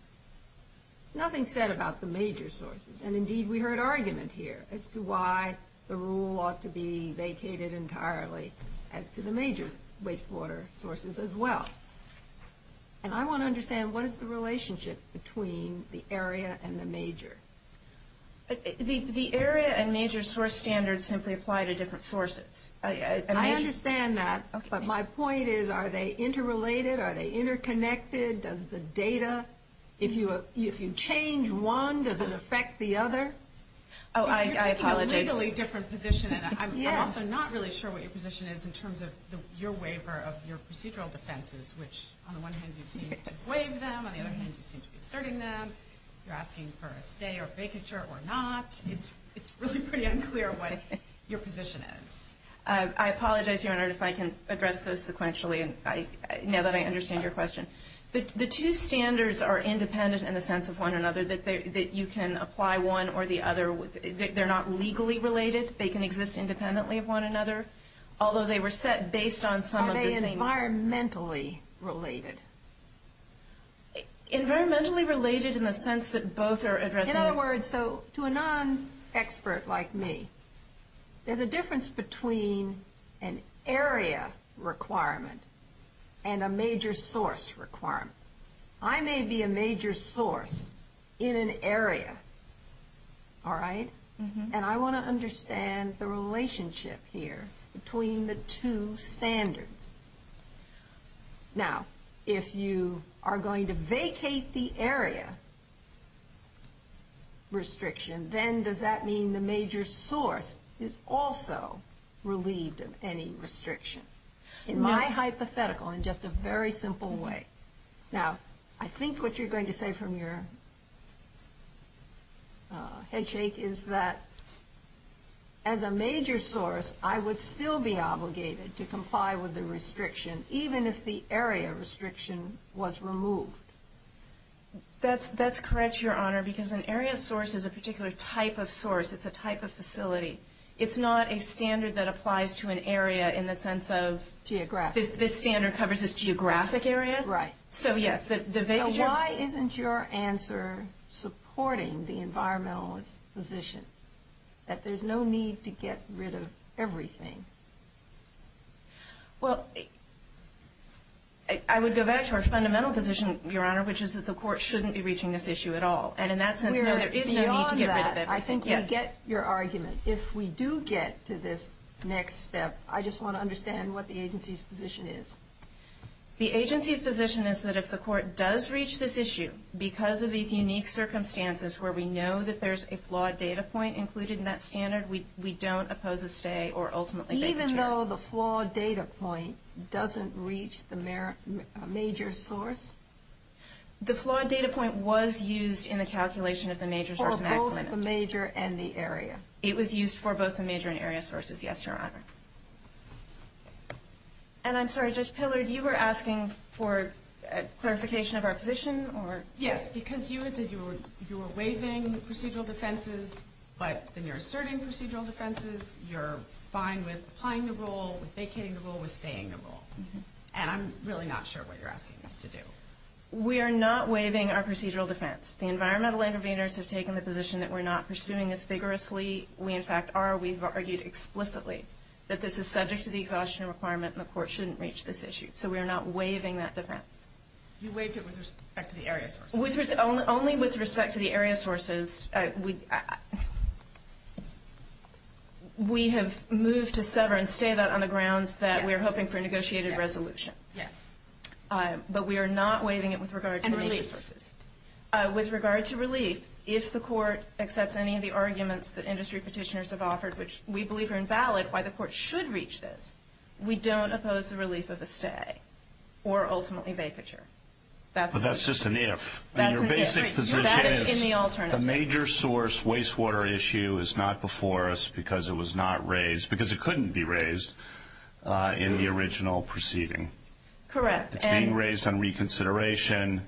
Nothing said about the major sources. And indeed, we heard argument here as to why the rule ought to be vacated entirely as to the major wastewater sources as well. And I want to understand what is the relationship between the area and the major? The area and major source standards simply apply to different sources. I understand that, but my point is are they interrelated? Are they interconnected? Does the data... If you change one, does it affect the other? Oh, I apologize. I'm also not really sure what your position is in terms of your waiver of your procedural defenses, which, on the one hand, you seem to waive them. On the other hand, you seem to be asserting them. You're asking for a stay or vacature or not. It's really pretty unclear what your position is. I apologize, Your Honor, if I can address this sequentially now that I understand your question. The two standards are independent in the sense of one or another that you can apply one or the other. They're not legally related. They can exist independently of one another. Although they were set based on... Are they environmentally related? Environmentally related in the sense that both are addressing... In other words, to a non-expert like me, there's a difference between an area requirement and a major source requirement. I may be a major source in an area. All right? And I want to understand the relationship here between the two standards. Now, if you are going to vacate the area restriction, then does that mean the major source is also relieved of any restriction? In my hypothetical, in just a very simple way. Now, I think what you're going to say from your head shake is that as a major source, I would still be obligated to comply with the restriction, even if the area restriction was removed. That's correct, Your Honor, because an area source is a particular type of source. It's a type of facility. It's not a standard that applies to an area in the sense of... This standard covers a geographic area? Right. Why isn't your answer supporting the environmentalist position that there's no need to get rid of everything? Well, I would go back to our fundamental position, Your Honor, which is that the court shouldn't be reaching this issue at all. And in that sense, there is no need to get rid of everything. Beyond that, I think we get your argument. If we do get to this next step, I just want to understand what the agency's position is. The agency's position is that if the court does reach this issue because of these unique circumstances where we know that there's a flawed data point included in that standard, we don't oppose a stay or ultimately... Even though the flawed data point doesn't reach the major source? The flawed data point was used in the calculation of the major source... For both the major and the area? It was used for both the major and area sources, yes, Your Honor. And I'm sorry, Judge Pillard, you were asking for clarification of our position? Yes, because you said you were waiving procedural defenses, but when you're asserting procedural defenses, you're fine with applying the rule, vacating the rule, or staying the rule. And I'm really not sure what you're asking us to do. We are not waiving our procedural defense. The Environmental Innovators has taken the position that we're not pursuing this vigorously. We, in fact, are. We've argued explicitly that this is subject to the exhaustion requirement and the court shouldn't reach this issue. So we're not waiving that defense. You waived it with respect to the area sources. Only with respect to the area sources. We... We have moved to sever and stay that on the grounds that we're hoping for a negotiated resolution. Yes. But we are not waiving it with regard to... And release. With regard to release, if the court accepts any of the arguments that industry petitioners have offered, which we believe are invalid, why the court should reach this, we don't oppose the release of the stay or ultimately vacature. But that's just an if. The major source wastewater issue is not before us because it was not raised. Because it couldn't be raised in the original proceeding. Correct. It's being raised on reconsideration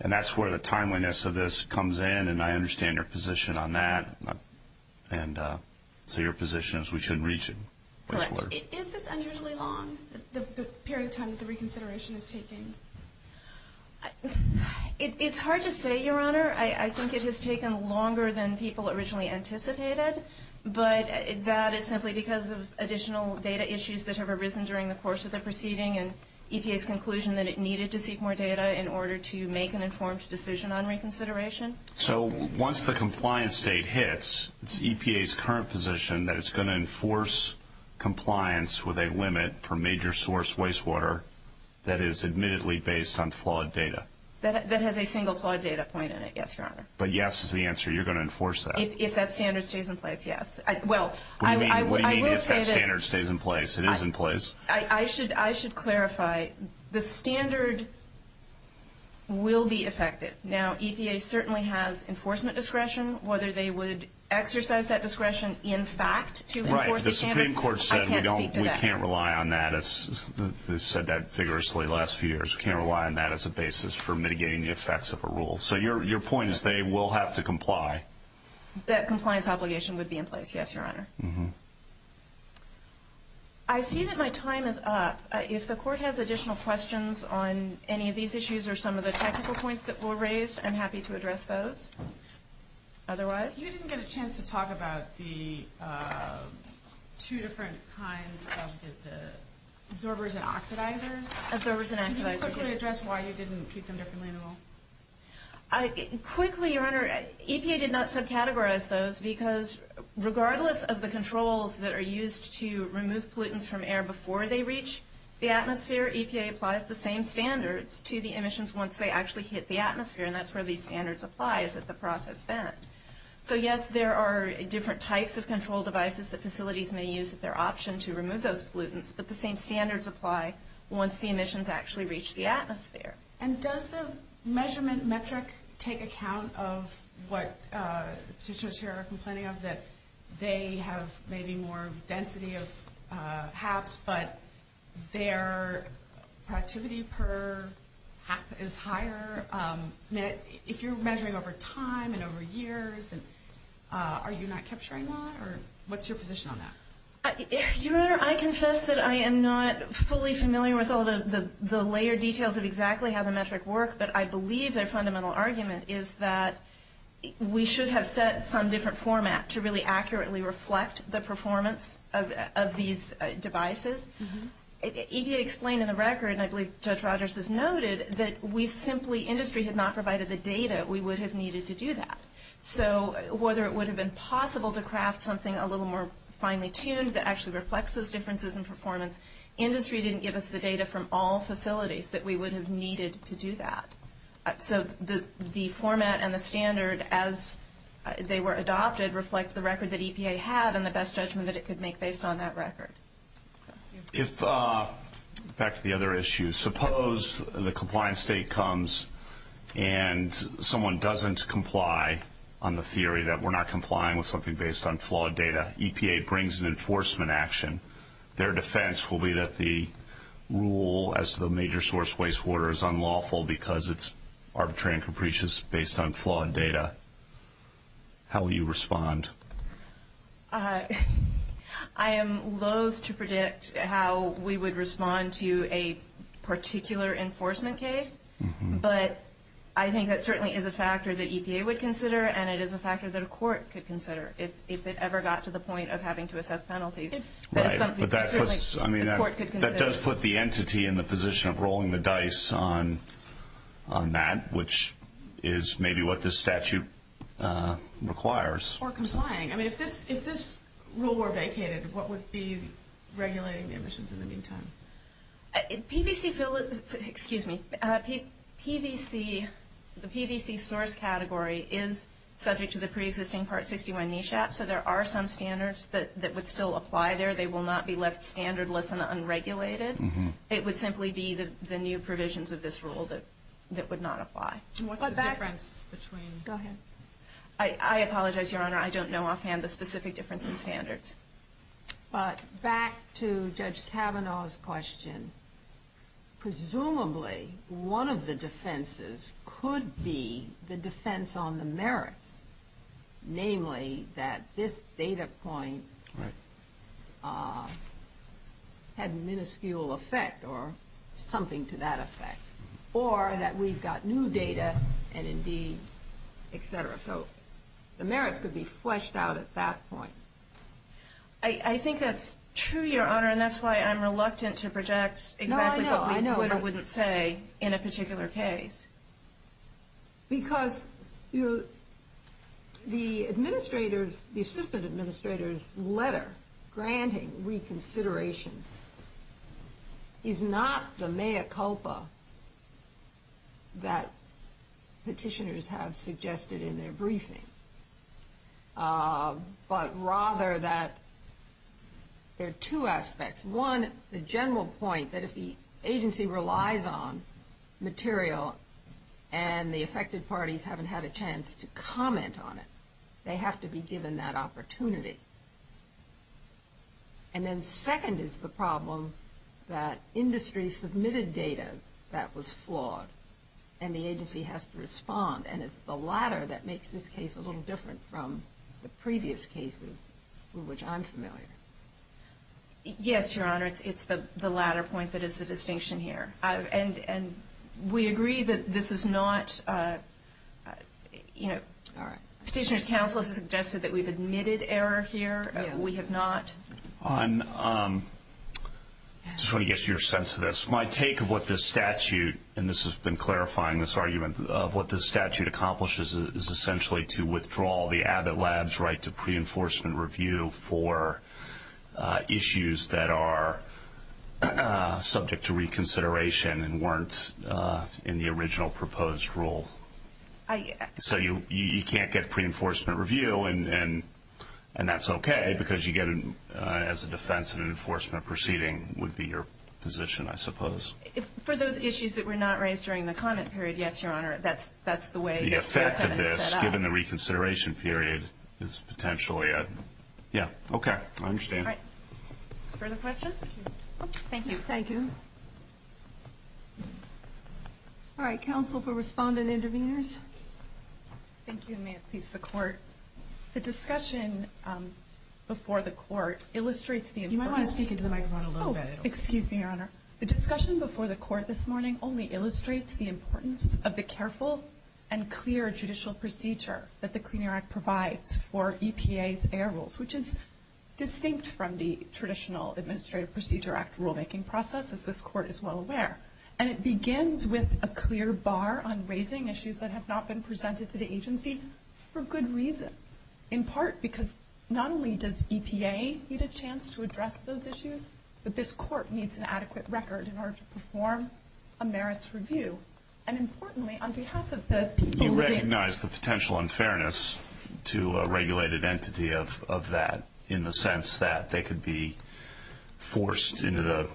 and that's where the timeliness of this comes in and I understand your position on that. And so your position is we should reach it. Correct. If it's unusually long the period of time that the reconsideration is taking. It's hard to say Your Honor. I think it has taken longer than people originally anticipated. But that is simply because of additional data issues that have arisen during the course of the proceeding and EPA's conclusion that it needed to seek more data in order to make an informed decision on reconsideration. So once the compliance date hits, it's EPA's current position that it's going to enforce compliance with a limit for major source wastewater that is admittedly based on flawed data. That has a single flawed data point in it. Yes, Your Honor. But yes is the answer. You're going to enforce that. If that standard stays in place, yes. What do you mean if that standard stays in place? It is in place. I should clarify the standard will be affected. Now EPA certainly has enforcement discretion whether they would exercise that discretion in fact to enforce the standards. Right. The Supreme Court said we can't rely on that. They said that vigorously the last few years. We can't rely on that as a basis for mitigating the effects of a rule. So your point is they will have to comply. That compliance obligation would be in place. Yes, Your Honor. I see that my time is up. If the Court has additional questions on any of these issues or some of the technical points that were raised, I'm happy to address those. Otherwise... You didn't get a chance to talk about the two different kinds of the absorbers and oxidizers. Absorbers and oxidizers. Could you quickly address why you didn't treat them differently at all? Quickly, Your Honor, EPA did not subcategorize those because regardless of the controls that are used to remove pollutants from air before they reach the atmosphere, EPA applies the same standards to the emissions once they actually hit the atmosphere and that's where these standards apply to the process then. So yes, there are different types of control devices that facilities may use as their option to remove those pollutants, but the same standards apply once the emissions actually reach the atmosphere. And does the measurement metric take account of what teachers here are complaining of that they have maybe more density of HAPs but their productivity per HAP is higher? If you're measuring over time and over years, are you not capturing that or what's your position on that? Your Honor, I confess that I am not fully familiar with all the layer details of exactly how the metric works, but I believe their fundamental argument is that we should have set some different format to really accurately reflect the performance of these devices. EPA explained in the record and I believe Judge Rogers has noted that we've simply, industry has not provided the data we would have needed to do that. So whether it would have been possible to craft something a little more finely tuned that actually reflects those differences in performance, industry didn't give us the data from all facilities that we would have needed to do that. So the format and the standard as they were adopted reflect the record that EPA had and the best judgment that it could make based on that record. If, back to the other issue, suppose the compliance state comes and someone doesn't comply on the theory that we're not complying with something based on flawed data, EPA brings an enforcement action. Their defense will be that the rule as the major source waste water is unlawful because it's arbitrary and capricious based on flawed data. How will you respond? I am loathe to predict how we would respond to a particular enforcement case but I think that certainly is a factor that EPA would consider and it is a factor that a court could consider if it ever got to the point of having to assess penalties. That does put the entity in the position of rolling the dice on that which is maybe what this statute requires. If this rule were vacated, what would be regulating emissions in the meantime? The PVC source category is subject to the pre-existing Part 61 NESHAP so there are some standards that would still apply there. They will not be left standardless and unregulated. It would simply be the new provisions of this rule that would not apply. I apologize, Your Honor. I don't know offhand the specific differences in standards. Back to Judge Kavanaugh's question. Presumably one of the defenses could be the defense on the merits. Namely that this data point had minuscule effect or something to that effect or that we've got new data and indeed etc. So the merits would be fleshed out at that point. I think that's true, Your Honor, and that's why I'm reluctant to project exactly what I would say in a particular case. Because the administrator's letter granting reconsideration is not the mea culpa that petitioners have suggested in their briefing. But rather that there are two aspects. One, the general point that if the agency relies on material and the affected parties haven't had a chance to comment on it, they have to be given that opportunity. And then second is the problem that industry submitted data that was flawed and the agency has to respond. And it's the latter that makes this case a little different from the previous cases from which I'm familiar. Yes, Your Honor. It's the latter point that is the distinction here. And we agree that this is not a you know, the Petitioner's Counsel has suggested that we've admitted error here. We have not. I'm just trying to get your sense of this. My take of what this statute and this has been clarifying this argument of what this statute accomplishes is essentially to withdraw the Abbott Lab's right to pre-enforcement review for issues that are subject to reconsideration and weren't in the original proposed rule. So you can't get pre-enforcement review and that's okay because you get it as a defense and an enforcement proceeding would be your position, I suppose. For those issues that were not raised during the comment period, yes, Your Honor. That's the way The effect of this, given the reconsideration period, is potentially a, yeah, okay. I understand. Further questions? Thank you. All right. Counsel for Respondent Interveners. Thank you, and may it please the Court. The discussion before the Court illustrates the You might want to take it to the microphone a little bit. Oh, excuse me, Your Honor. The discussion before the Court this morning only illustrates the importance of the careful and clear judicial procedure that the Clean Air Act provides for EPA's air rules, which is distinct from the traditional Administrative Procedure Act rulemaking process as this Court is well aware. And it begins with a clear bar on raising issues that have not been presented to the agency for good reasons. In part because not only does EPA need a chance to address those issues, but this Court needs an adequate record in order to perform a merits review. And importantly, on behalf of the You recognize the potential unfairness to a regulated entity of that, in the sense that they could be forced into the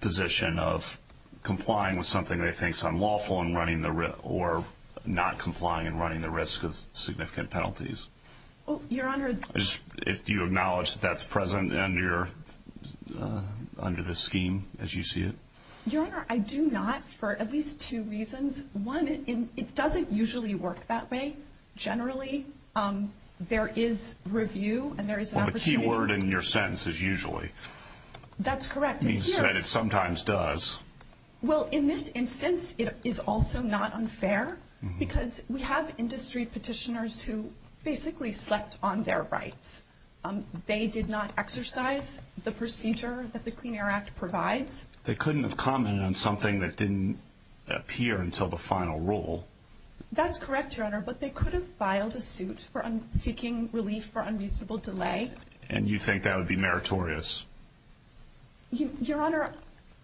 position of complying with something they think is unlawful or not complying and running the risk of significant penalties. Oh, Your Honor. Do you acknowledge that that's present under the scheme as you see it? Your Honor, I do not for at least two reasons. One, it doesn't usually work that way. Generally, there is review and there is an opportunity A keyword in your sentence is usually. That's correct. It sometimes does. Well, in this instance, it is also not unfair because we have industry petitioners who basically slept on their rights. They did not exercise the procedure that the Clean Air Act provides. They couldn't have commented on something that didn't appear until the final rule. That's correct, Your Honor, but they could have filed a suit seeking relief for unusable delay. And you think that would be meritorious? Your Honor,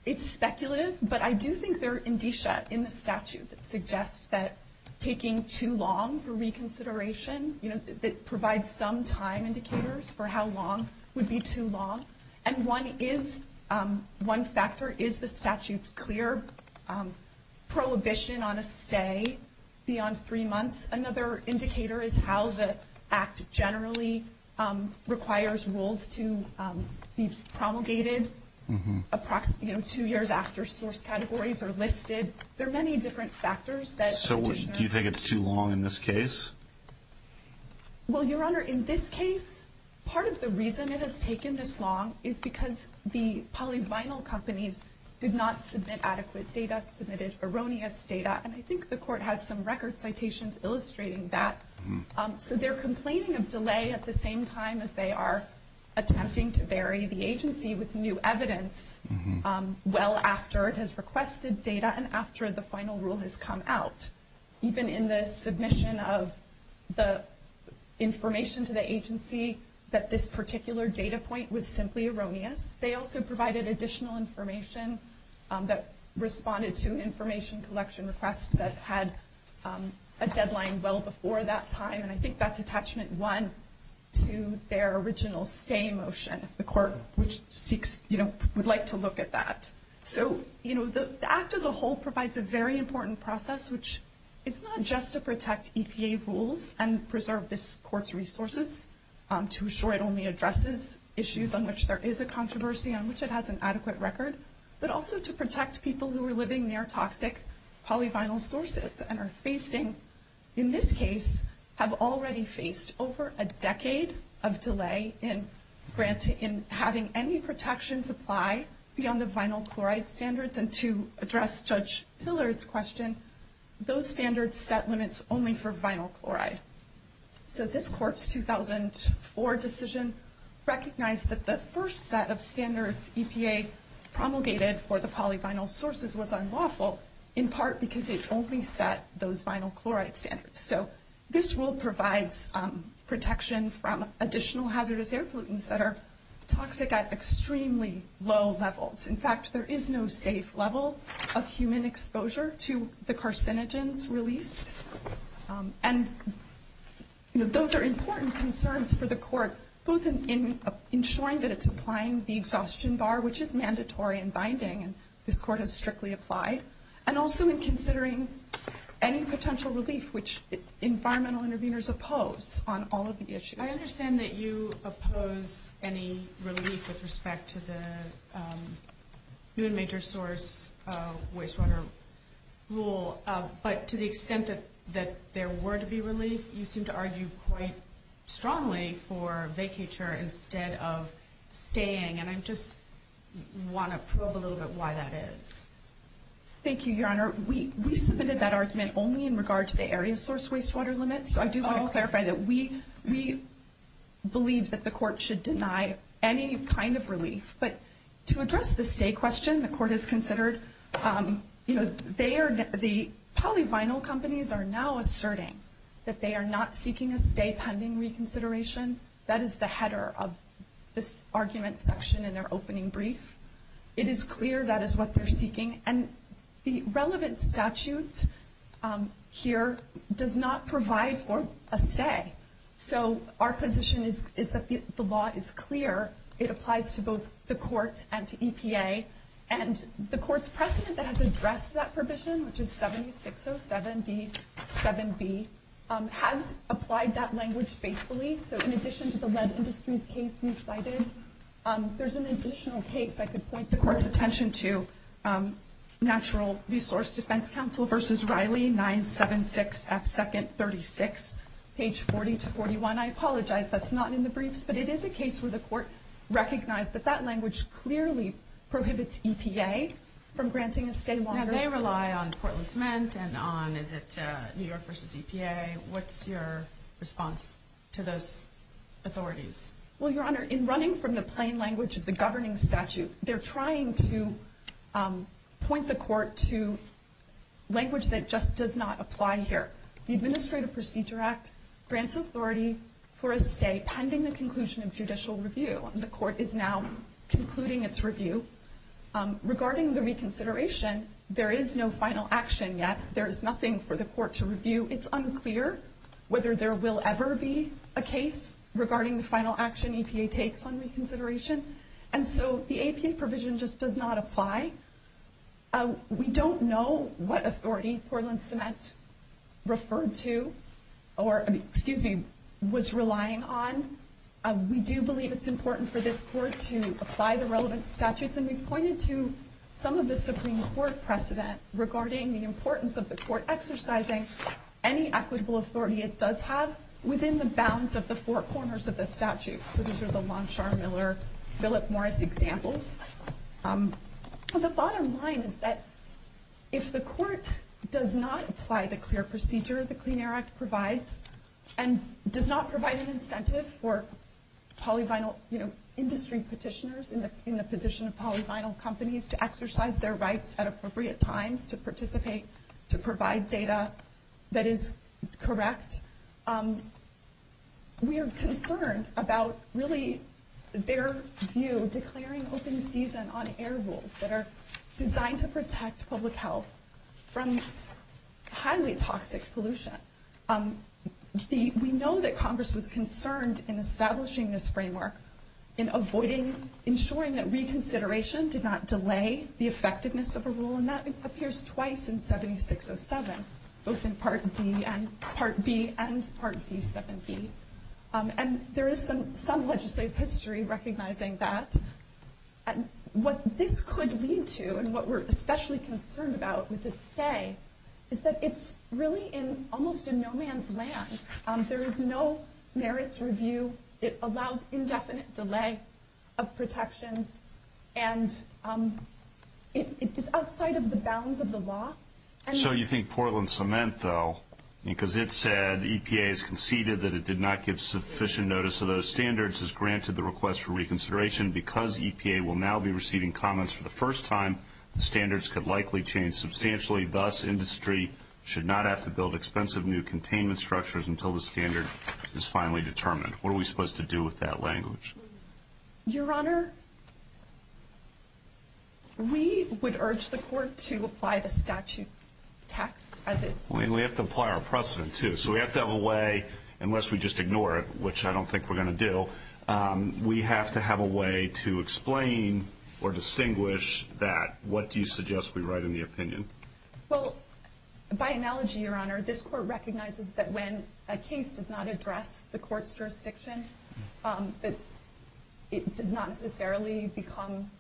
it's speculative, but I do think there is indicia in the statute that suggests that taking too long for reconsideration provides some time indicators for how long would be too long. One factor is the statute's clear prohibition on a stay beyond three months. Another indicator is how the Act generally requires rules to be promulgated two years after source categories are listed. There are many different factors. Do you think it's too long in this case? Well, Your Honor, in this case, part of the reason it has taken this long is because the polyvinyl companies did not submit adequate data, submitted erroneous data, and I think the Court has some record citations illustrating that. They're complaining of delay at the same time as they are attempting to bury the agency with new evidence well after it has requested data and after the final rule has come out. Even in the submission of the information to the agency that this particular data point was simply erroneous, they also provided additional information that responded to an information collection request that had a deadline well before that time and I think that's attachment one to their original stay motion if the Court would like to look at that. The Act as a whole provides a very important process which is not just to protect EPA rules and preserve this Court's resources to assure it only addresses issues on which there is a controversy and which it has an adequate record, but also to protect people who are living near toxic polyvinyl sources and are facing in this case have already faced over a decade of delay in having any protections apply beyond the vinyl chloride standards and to address Judge Pillar's question, those standards set limits only for vinyl chloride. So this Court's 2004 decision recognized that the first set of standards EPA promulgated for the polyvinyl sources was unlawful in part because they only set those vinyl chloride standards. So this rule provides protections from additional hazardous air pollutants that are toxic at extremely low levels. In fact, there is no safe level of human exposure to the carcinogens released and those are important concerns for the Court both in ensuring that it's applying the exhaustion bar which is mandatory and binding and this Court has strictly applied and also in considering any potential relief which environmental interveners oppose on all of the issues. I understand that you oppose any relief with respect to the new and major source wastewater rule, but to the extent that there were to be relief, you seem to argue quite strongly for vacature instead of staying and I just want to know a little bit why that is. Thank you, Your Honor. We submitted that argument only in regard to the area source wastewater limit, so I do want to clarify that we believe that the Court should deny any kind of relief, but to address the stay question, the Court has considered, you know, they are, the polyvinyl companies are now asserting that they are not seeking a stay pending reconsideration. That is the header of this argument section in our opening brief. It is clear that is what they're seeking and the relevant statute here does not provide for a stay. So our position is that the law is clear. It applies to both the Court and the EPA and the Court's precedent that has addressed that provision which is 7607b 7b has applied that language faithfully so in addition to the wet industries case you cited, there's an additional case I could point the Court's attention to Natural Resource Defense Council v. Riley 976 F. 2nd 36 page 40 to 41. I apologize that's not in the brief but it is a case where the Court recognized that that language clearly prohibits EPA from granting a stay while they rely on Portland Cement and on New York v. EPA. What's your response to those authorities? Well, Your Honor, in running from the plain language of the governing statute they're trying to point the Court to language that just does not apply here. The Administrative Procedure Act grants authority for a stay pending the conclusion of judicial review. The Court is now concluding its review. Regarding the reconsideration there is no final action yet. There is nothing for the Court to review. It's unclear whether there will ever be a case regarding the final action EPA takes on reconsideration. And so the EPA provision just does not apply. We don't know what authority Portland Cement referred to or, excuse me, was relying on. We do believe it's important for this Court to apply the relevant statutes and we pointed to some of the Supreme Court precedent regarding the importance of the Court exercising any equitable authority it does have within the bounds of the four corners of the statute. So these are the Longshore Miller Philip Morris examples. The bottom line is that if the Court does not apply the clear procedure the Clean Air Act provides and does not provide an incentive for polyvinyl industry petitioners in the position of polyvinyl companies to exercise their rights at appropriate times to participate, to provide data that is correct, we are concerned about really their view declaring open season on air rules that are designed to protect public health from highly toxic pollution. We know that Congress was concerned in establishing this framework in avoiding, ensuring that reconsideration did not delay the effectiveness of a rule and that both in Part B and Part C. And there is some legislative history recognizing that and what this could lead to and what we're especially concerned about with this say is that it's really in almost a no man's land. There is no merits review it allows indefinite delay of protection and it's outside of the bounds of the law. So you think Portland Cement though because it said EPA has conceded that it did not give sufficient notice of those standards has granted the request for reconsideration because EPA will now be receiving comments for the first time that standards could likely change substantially thus industry should not have to build expensive new containment structures until the standard is finally determined. What are we supposed to do with that language? Your Honor, we would urge the court to apply the statute as it is. We have to apply our precedent too. So we have to have a way unless we just ignore it which I don't think we're going to do. We have to have a way to explain or distinguish that. What do you suggest we write in the opinion? Well, by analogy Your Honor, this court recognizes that when a case does not address the court's jurisdiction it did not necessarily become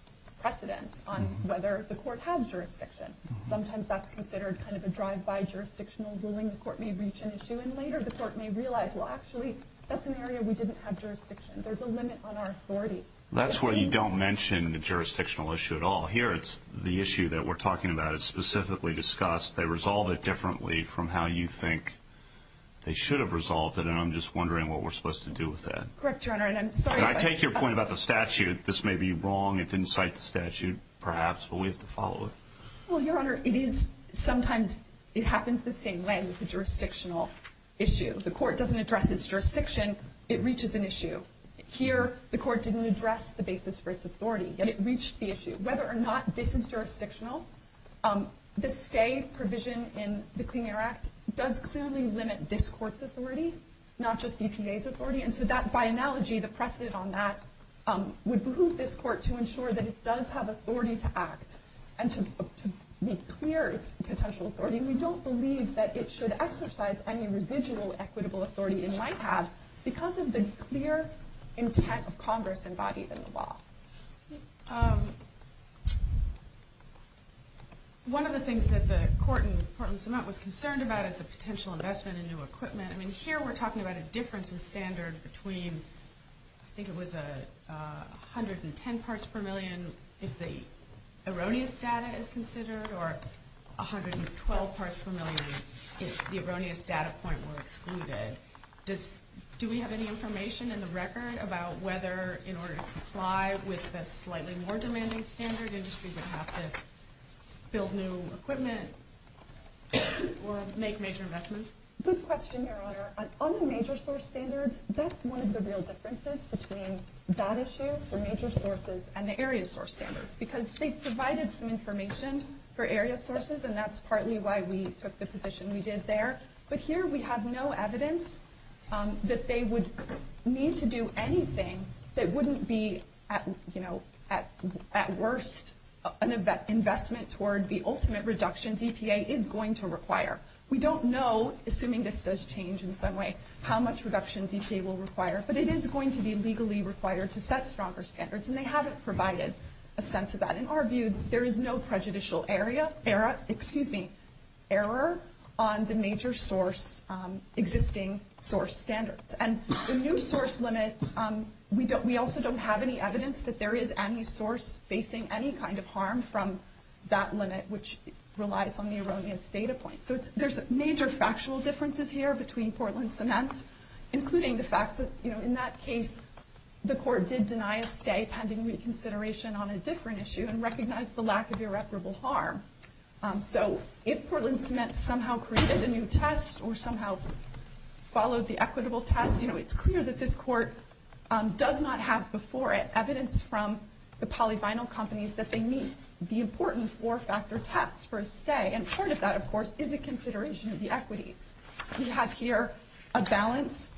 precedent on whether the court had jurisdiction. Sometimes that's considered kind of a drive-by jurisdictional ruling. The court may reach an issue and later the court may realize well actually that's an area we didn't have jurisdiction. There's a limit on our authority. That's where you don't mention the jurisdictional issue at all. Here it's the issue that we're talking about is specifically discussed. They resolve it differently from how you think they should have resolved it and I'm just I take your point about the statute. This may be wrong. It didn't cite the statute perhaps but we have to follow it. Well, Your Honor, it is sometimes it happens the same way with the jurisdictional issue. The court doesn't address its jurisdiction it reaches an issue. Here the court didn't address the basis for its authority yet it reached the issue. Whether or not this is jurisdictional the stay provision in the Clean Air Act does clearly limit this court's authority not just the EPA's authority and so that by analogy the precedent on that would move this court to ensure that it does have authority to act and to make clear the potential authority and we don't believe that it should exercise any residual equitable authority it might have because of the clear intent of Congress embodied in the law. Um One of the things that the court was concerned about is the potential investment in new standard between I think it was a 110 parts per million if the erroneous data is considered or 112 parts per million if the erroneous data point were excluded. Do we have any information in the record about whether in order to comply with the slightly more demanding standard industries have to build new equipment or make major investments? Good question Your Honor. On the major source standard that's one of the real differences between data share for major sources and the area source standard because they provided some information for area sources and that's partly why we took the position we did there but here we have no evidence that they would need to do anything that wouldn't be at you know at worst an investment toward the ultimate reduction EPA is going to require. We don't know assuming this does change in some way how much reduction EPA will require but it is going to be legally required to set stronger standards and they haven't provided a sense of that. In our view there is no prejudicial area excuse me error on the major source existing source standard and the new source limit we also don't have any evidence that there is any source facing any kind of harm from that limit which relies on the erroneous data point. So there's major factual differences here between Portland Cements including the fact that in that case the court did deny a stay pending reconsideration on a different issue and recognized the lack of irreparable harm. So if Portland Cements somehow created a new test or somehow followed the equitable test it's clear that this court does not have before it evidence from the polyvinyl companies that they have an important four factor test for a stay and part of that of course is a consideration of the equity. We have here a balance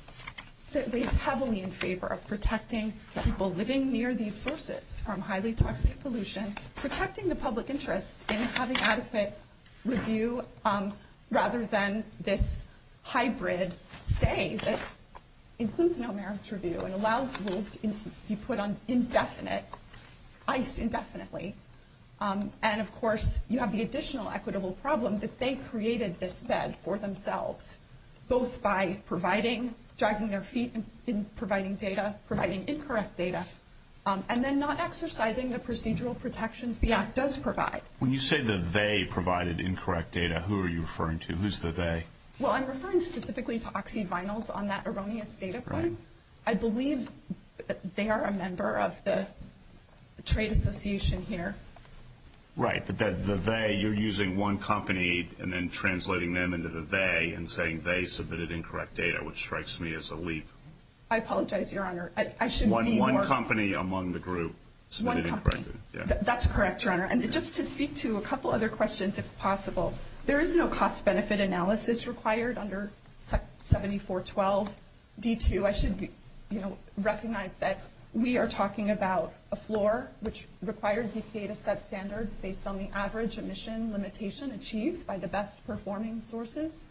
that is heavily in favor of protecting people living near these sources from highly toxic pollution, protecting the public interest in having adequate review rather than this hybrid stay that includes no merits review and allows rules to be put on indefinite indefinitely and of course you have the additional equitable problem that they created this bed for themselves both by providing, dragging their feet in providing data, providing incorrect data and then not exercising the procedural protections the Act does provide. When you say that they provided incorrect data who are you referring to? Who's the they? Well I'm referring specifically to OxyVinyl on that erroneous data point. I believe that they are a member of the trade association here. You're using one company and then translating them into the they and saying they submitted incorrect data which strikes me as a leap. I apologize your honor. One company among the group submitted incorrect data. That's correct your honor and just to speak to a couple other questions if possible. There is no cost benefit analysis required under 7412 D2. I should recognize that we are talking about a floor which requires EPA to set standards based on the average emission limitation achieved by the best performing sources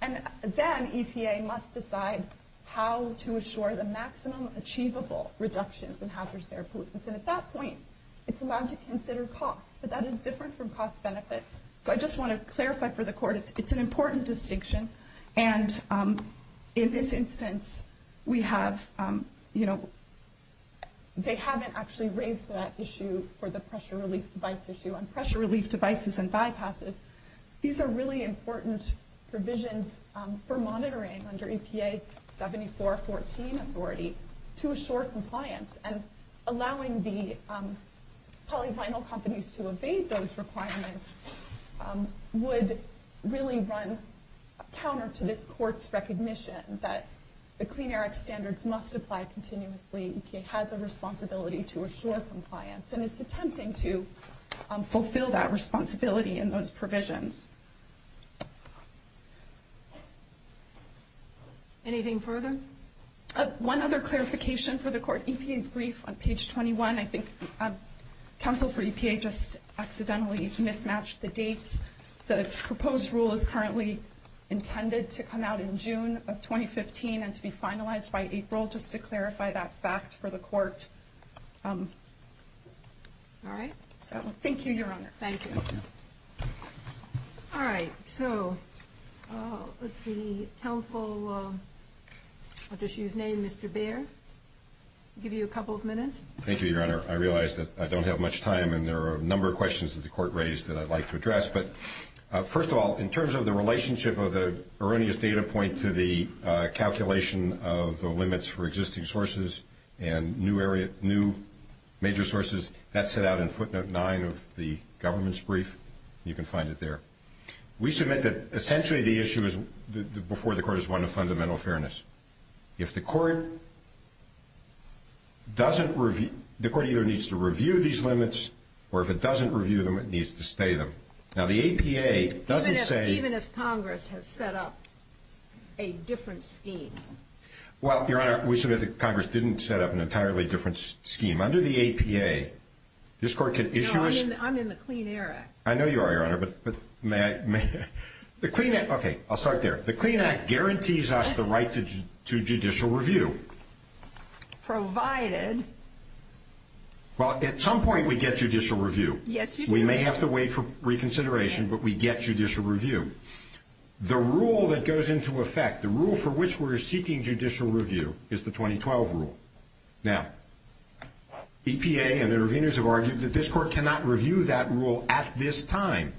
and then EPA must decide how to assure the maximum achievable reduction in hazardous air pollutants and at that point it's allowed to consider cost but that is different from cost benefits. So I just want to clarify for the court it's an important distinction and in this instance we have they haven't actually raised that issue for the pressure release device issue and pressure release devices and bypasses. These are really important provisions for monitoring under EPA 7414 authority to assure compliance and allowing the polyvinyl companies to obey those requirements would really run counter to this court's recognition that the Clean Air Act standards must apply continuously. EPA has a responsibility to assure compliance and it's attempting to fulfill that responsibility in those provisions. Anything further? One other clarification for the court EPA's brief on page 21 I think counsel for EPA just accidentally mismatched the date that it's proposed and this rule is currently intended to come out in June of 2015 and to be finalized by April just to clarify that fact for the court. Alright. Thank you Your Honor. Thank you. Alright so let's see helpful official's name Mr. Baird give you a couple of minutes. Thank you Your Honor I realize that I don't have much time and there are a number of questions that the court raised that I'd like to address but first of all in terms of the relationship of the erroneous data point to the calculation of the limits for existing sources and new major sources that's set out in footnote 9 of the government's brief. You can find it there. We submit that essentially the issue before the court is one of fundamental fairness. If the court doesn't review the court either needs to review these limits or if it doesn't review them it needs to stay them. Now the APA doesn't say... Even if Congress has set up a different scheme. Well Your Honor we submit that Congress didn't set up an entirely different scheme. Under the APA this court can issue... I'm in the clean air act. I know you are Your Honor but may I... The clean act... Okay I'll start there. The clean act guarantees us the right to judicial review. Provided Well at some point we get judicial review. We may have to wait for reconsideration but we get judicial review. The rule that goes into effect the rule for which we are seeking judicial review is the 2012 rule. Now APA and their reviewers have argued that this court cannot review that rule at this time.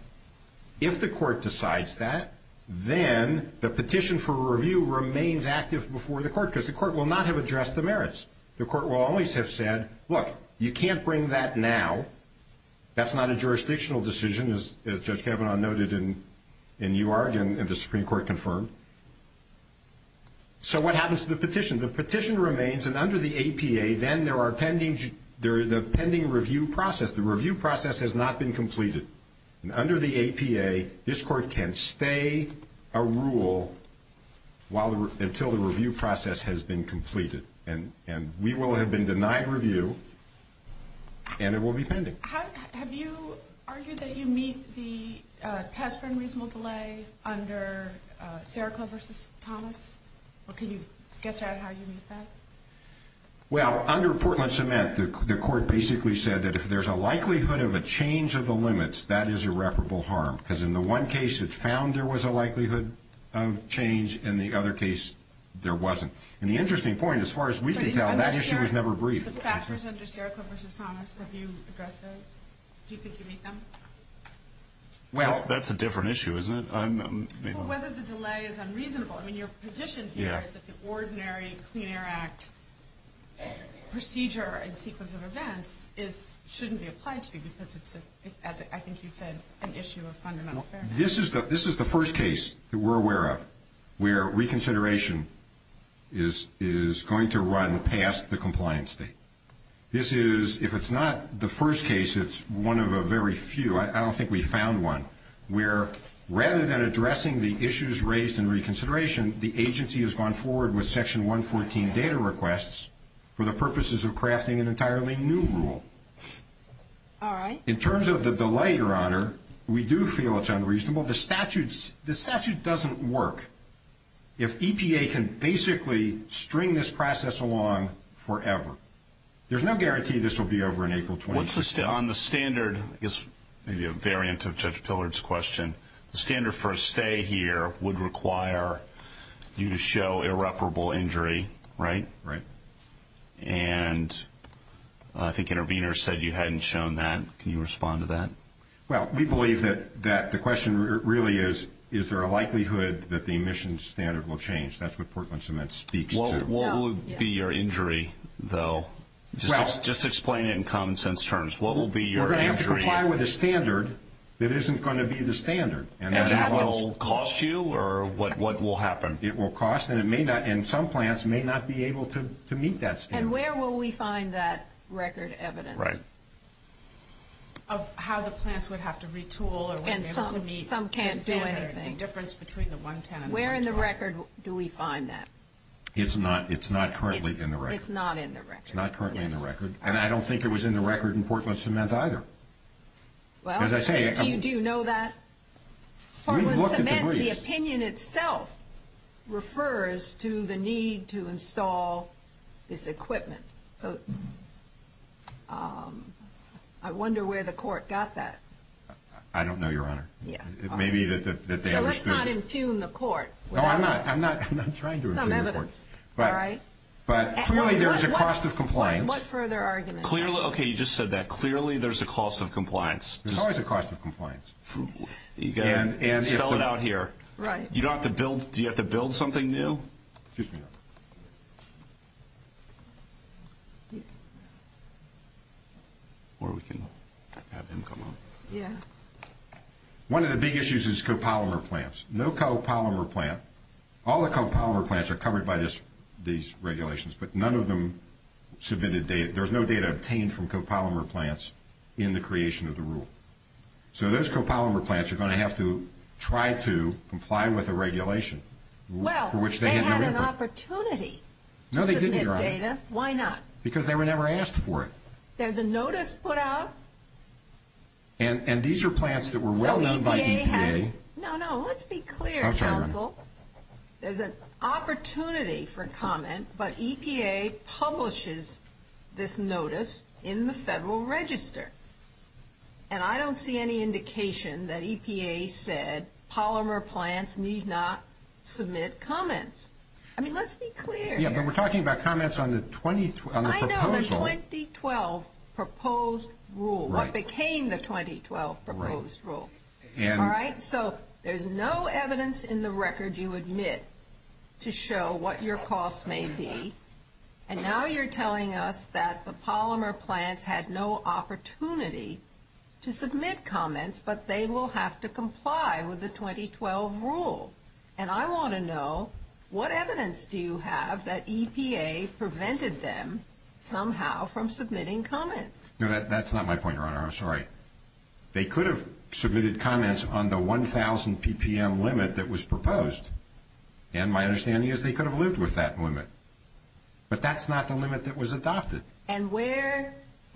If the court decides that then the petition for review remains active before the court because the court will not have to address the merits. The court will always have said look you can't bring that now. That's not a jurisdictional decision as Judge Kavanaugh noted in UR and the Supreme Court confirmed. So what happens to the petition? The petition remains and under the APA then there are pending the pending review process. The review process has not been completed. And under the APA this court can stay a rule while until the review process has been completed. And we will have been denied review and it will be pending. Have you argued that you meet the tax frame reasonable delay under Sarah Clover's promise? Or can you sketch out how you meet that? Well under Portland Cement the court basically said that if there's a likelihood of a change of the limits that is irreparable harm because in the one case it found there was a likelihood of change and in the other case there wasn't. And the interesting point as far as we can tell that issue is never brief. The factors under Sarah Clover's promise have you addressed those? Do you think you meet them? Well that's a different issue isn't it? Whether the delay is unreasonable I mean your petition here is that the ordinary Clean Air Act procedure and sequence of events shouldn't be applied to because it's I think you said an issue of fundamental fairness. This is the first case that we're aware of where reconsideration is going to run past the compliance state. This is if it's not the first case it's one of a very few. I don't think we found one where rather than addressing the issues raised in reconsideration the agency has gone forward with section 114 data requests for the purposes of crafting an entirely new rule. In terms of the delay your the statute doesn't work. If EPA can basically string this process along forever there's no guarantee this will be over in April 2016. On the standard the standard for a stay here would require you to show irreparable injury right? And I think intervener said you hadn't shown that. Can you respond to that? Well we believe that the question really is is there a likelihood that the emissions standard will change? That's what Portland Cement speaks to. What would be your injury though? Just explain in common sense terms. You're going to have to comply with a standard that isn't going to be the standard. And that will cost you or what will happen? It will cost and some plants may not be able to meet that standard. And where will we find that record evidence? Right. How the plants would have to retool and some can't do anything. Where in the record do we find that? It's not currently in the record. It's not currently in the record. And I don't think it was in the record in Portland Cement either. Do you know that? Portland Cement the opinion itself refers to the need to install this equipment. I wonder where the court got that. I don't know your honor. Let's not entune the court. I'm not trying to entune the court. But clearly there's a cost of compliance. Okay you just said that. Clearly there's a cost of compliance. There's always a cost of compliance. Spell it out here. Do you have to build something new? Or we can have them come up. One of the big issues is co-polymer plants. No co-polymer plant. All the co-polymer plants are covered by these regulations but none of them submitted data. There's no data obtained from co-polymer plants in the creation of the rule. So those co-polymer plants are going to have to try to comply with the regulation. Well they had an opportunity. Why not? Because they were never asked for it. There's a notice put out. And these are plants that were well known by EPA. No no let's be clear counsel. There's an opportunity for comment but EPA publishes this notice in the Federal Register. And I don't see any indication that EPA said polymer plants need not submit comments. I mean let's be clear. We're talking about comments on the 2012 proposal. I know the 2012 proposed rule. What became the 2012 proposed rule. Alright so there's no evidence in the record you admit to show what your cost may be. And now you're telling us that the polymer plant had no opportunity to submit comments but they will have to comply with the 2012 rule. And I want to know what evidence do you have that EPA prevented them somehow from submitting comments? That's not my point your honor. I'm sorry. They could have submitted comments on the 1000 PPM limit that was proposed. And my understanding is they could have lived with that limit. But that's not the limit that was adopted.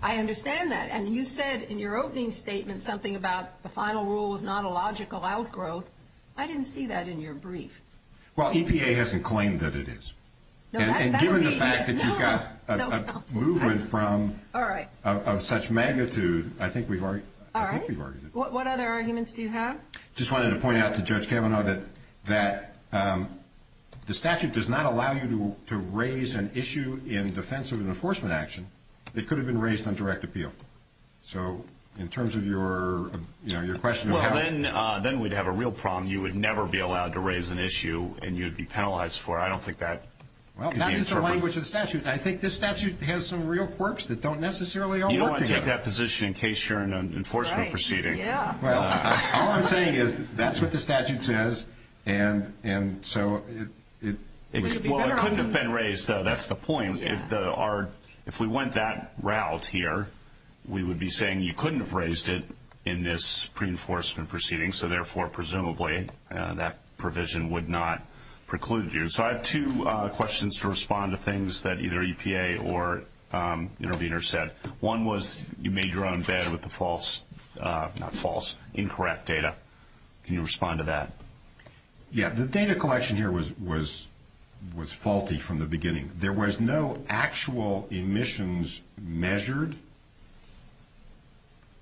I understand that. And you said in your opening statement something about the final rule is not a logical outgrowth. I didn't see that in your brief. Well EPA hasn't claimed that it is. And given the fact that you've got a movement from such magnitude I think we've argued it. What other arguments do you have? Just wanted to point out to Judge Kavanaugh that the statute does not allow you to raise an issue in defense of an enforcement action. It could have been raised on direct appeal. So in terms of your question. Well then we'd have a real problem. You would never be allowed to raise an issue and you'd be penalized for it. I don't think that... Well that's just the language of the statute. I think this statute has some real quirks that don't necessarily... You don't want to take that position in case you're in an enforcement proceeding. Well all I'm saying is that's what the statute says and so it... Well it couldn't have been raised though. That's the point. If we went that route here we would be saying you couldn't have raised it in this pre-enforcement proceeding so therefore presumably that provision would not preclude you. So I have two questions to respond to things that either EPA or intervener said. One was you made your own bed with the false... not false, incorrect data. Can you respond to that? Yeah. The data collection here was faulty from the beginning. There was no actual emissions measured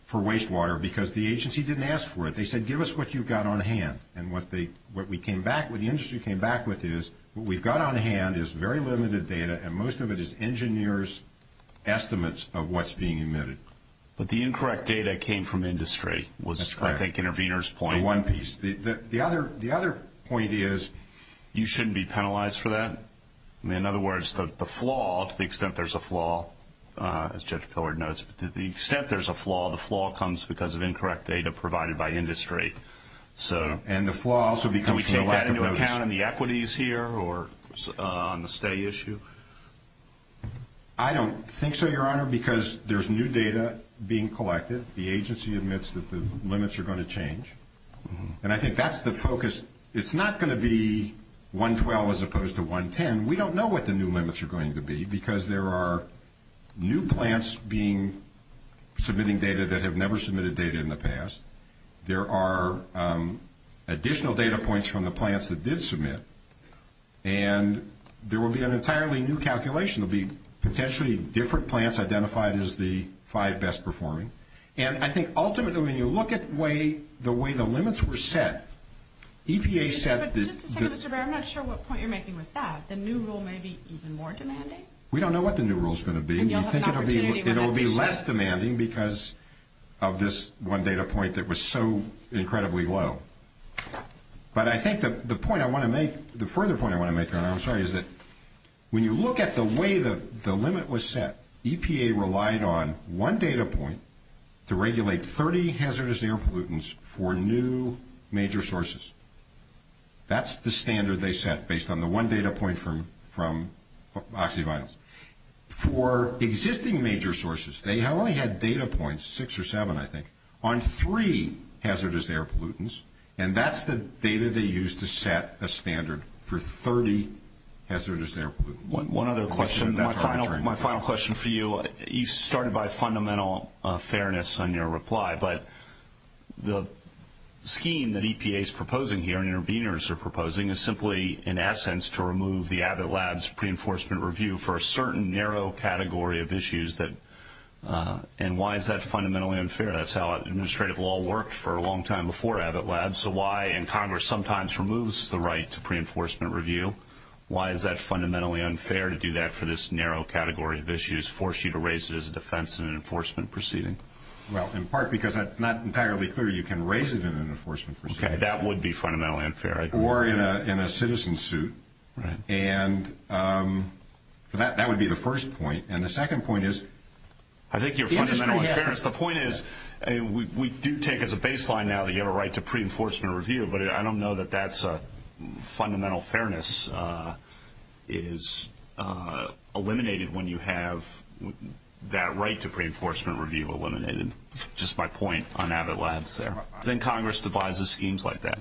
for wastewater because the agency didn't ask for it. They said give us what you've got on hand and what we came back... what the industry came back with is what we've got on hand is very limited data and most of it is engineers estimates of what's being emitted. But the incorrect data came from industry was I think intervener's point. The one piece. The other point is you shouldn't be penalized for that. In other words the flaw to the extent there's a flaw as Judge Pillard notes, to the extent there's a flaw, the flaw comes because of incorrect data provided by industry. And the flaw also becomes... Can we take that into account in the equities here or on the stay issue? I don't think so, Your Honor, because there's new data being collected. The agency admits that the limits are going to change. And I think that's the focus. It's not going to be 112 as opposed to 110. We don't know what the new limits are going to be because there are new plants being submitting data that have never submitted data in the past. There are additional data points from the plants that did submit and there will be an entirely new calculation. There will be potentially different plants identified as the five best performing and I think ultimately when you look at the way the limits were set EPA said that... I'm not sure what point you're making with that. The new rule may be even more demanding? We don't know what the new rule is going to be. We think it will be less demanding because of this one data point that was so incredibly low. But I think the point I want to make... The further point I want to make, Your Honor, I'm sorry, is that when you look at the way the limit was set, EPA relied on one data point to regulate 30 hazardous air pollutants for new major sources. That's the standard they set based on the one data point from Occupy. For existing major sources, they only had data points, six or seven I think, on three hazardous air pollutants and that's the data they used to set a standard for 30 hazardous air pollutants. My final question for you, you started by fundamental fairness on your reply but the scheme that EPA is proposing here and interveners are proposing is simply in essence to remove the Abbott Labs pre-enforcement review for a certain narrow category of issues that and why is that fundamentally unfair? That's how administrative law worked for a long time before Abbott Labs. Why in Congress sometimes removes the right to pre-enforcement review? Why is that fundamentally unfair to do that for this narrow category of issues and force you to raise it as a defense and enforcement proceeding? Well, in part because it's not entirely clear you can raise it in an enforcement proceeding. That would be fundamentally unfair. Or in a citizen suit and that would be the first point and the second point is I think your fundamental fairness. The point is we do take as a baseline now that you have a right to pre-enforcement review but I don't know that that's fundamental fairness is eliminated when you have that right to pre-enforcement review eliminated just by point on Abbott Labs there. Then Congress divides the schemes like that.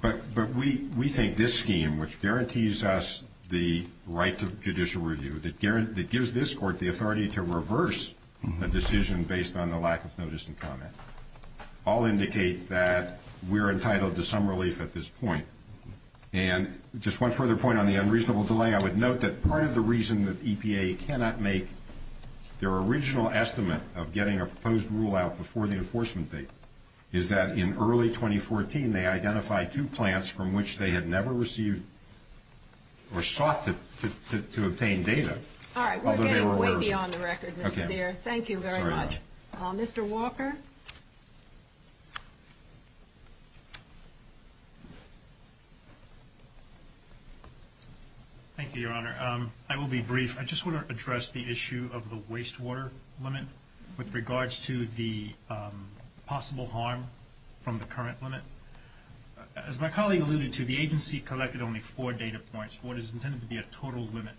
But we think this scheme which guarantees us the right to judicial review that gives this court the authority to reverse a decision based on the lack of notice and comment all indicate that we're entitled to some relief at this point and just one further point on the unreasonable delay. I would note that part of the reason that EPA cannot make their original estimate of getting a proposed rule out before the enforcement date is that in early 2014 they identified two plants from which they had never received or sought to obtain data although they were aware of it. Thank you very much. Mr. Walker? Thank you Your Honor. I will be brief. I just want to address the issue of the wastewater limit with regards to the possible harm from the current limit. As my colleague alluded to, the agency collected only four data points for what is intended to be a total limit.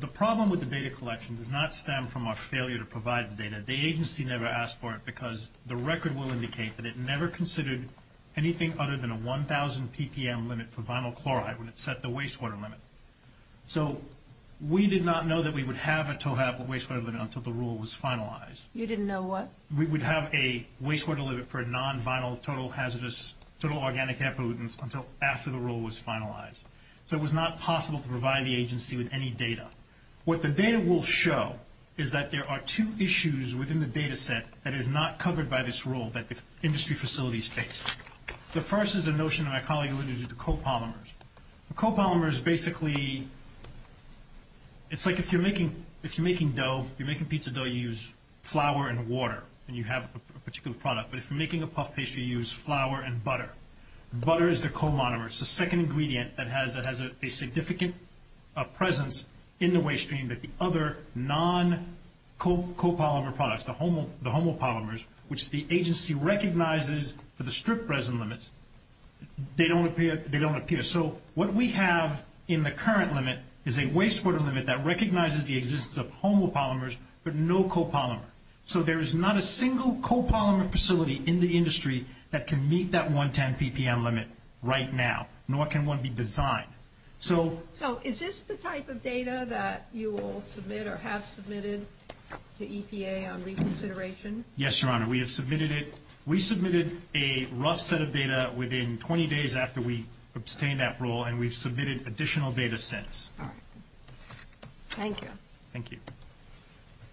The problem with the data collection does not stem from our failure to provide the data. The agency never asked for it because the record will indicate that it never considered anything other than a 1,000 ppm limit for vinyl wastewater limit. We did not know that we would have a total wastewater limit until the rule was finalized. You didn't know what? We would have a wastewater limit for non-vinyl total hazardous, total organic pollutants until after the rule was finalized. It was not possible to provide the agency with any data. What the data will show is that there are two issues within the data set that is not covered by this rule that the industry facilities face. The first is a notion that my colleague alluded to co-polymers. Co-polymers basically it's like if you're making dough, you're making pizza dough, you use flour and water and you have a particular product. If you're making a puff pastry, you use flour and butter. Butter is the co-monomer. It's the second ingredient that has a significant presence in the waste stream that the other non- co-polymer products, the homopolymers, which the agency recognizes for the strict resin limits, they don't appear. What we have in the current limit is a wastewater limit that recognizes the existence of homopolymers but no co-polymer. There is not a single co-polymer facility in the industry that can meet that 110 PPM limit right now, nor can one be designed. Is this the type of data that you will submit or have submitted to EPA on reconsideration? Yes, Your Honor. We have submitted it. We will submit the data within 20 days after we obtain that rule and we've submitted additional data sets. Thank you. Thank you.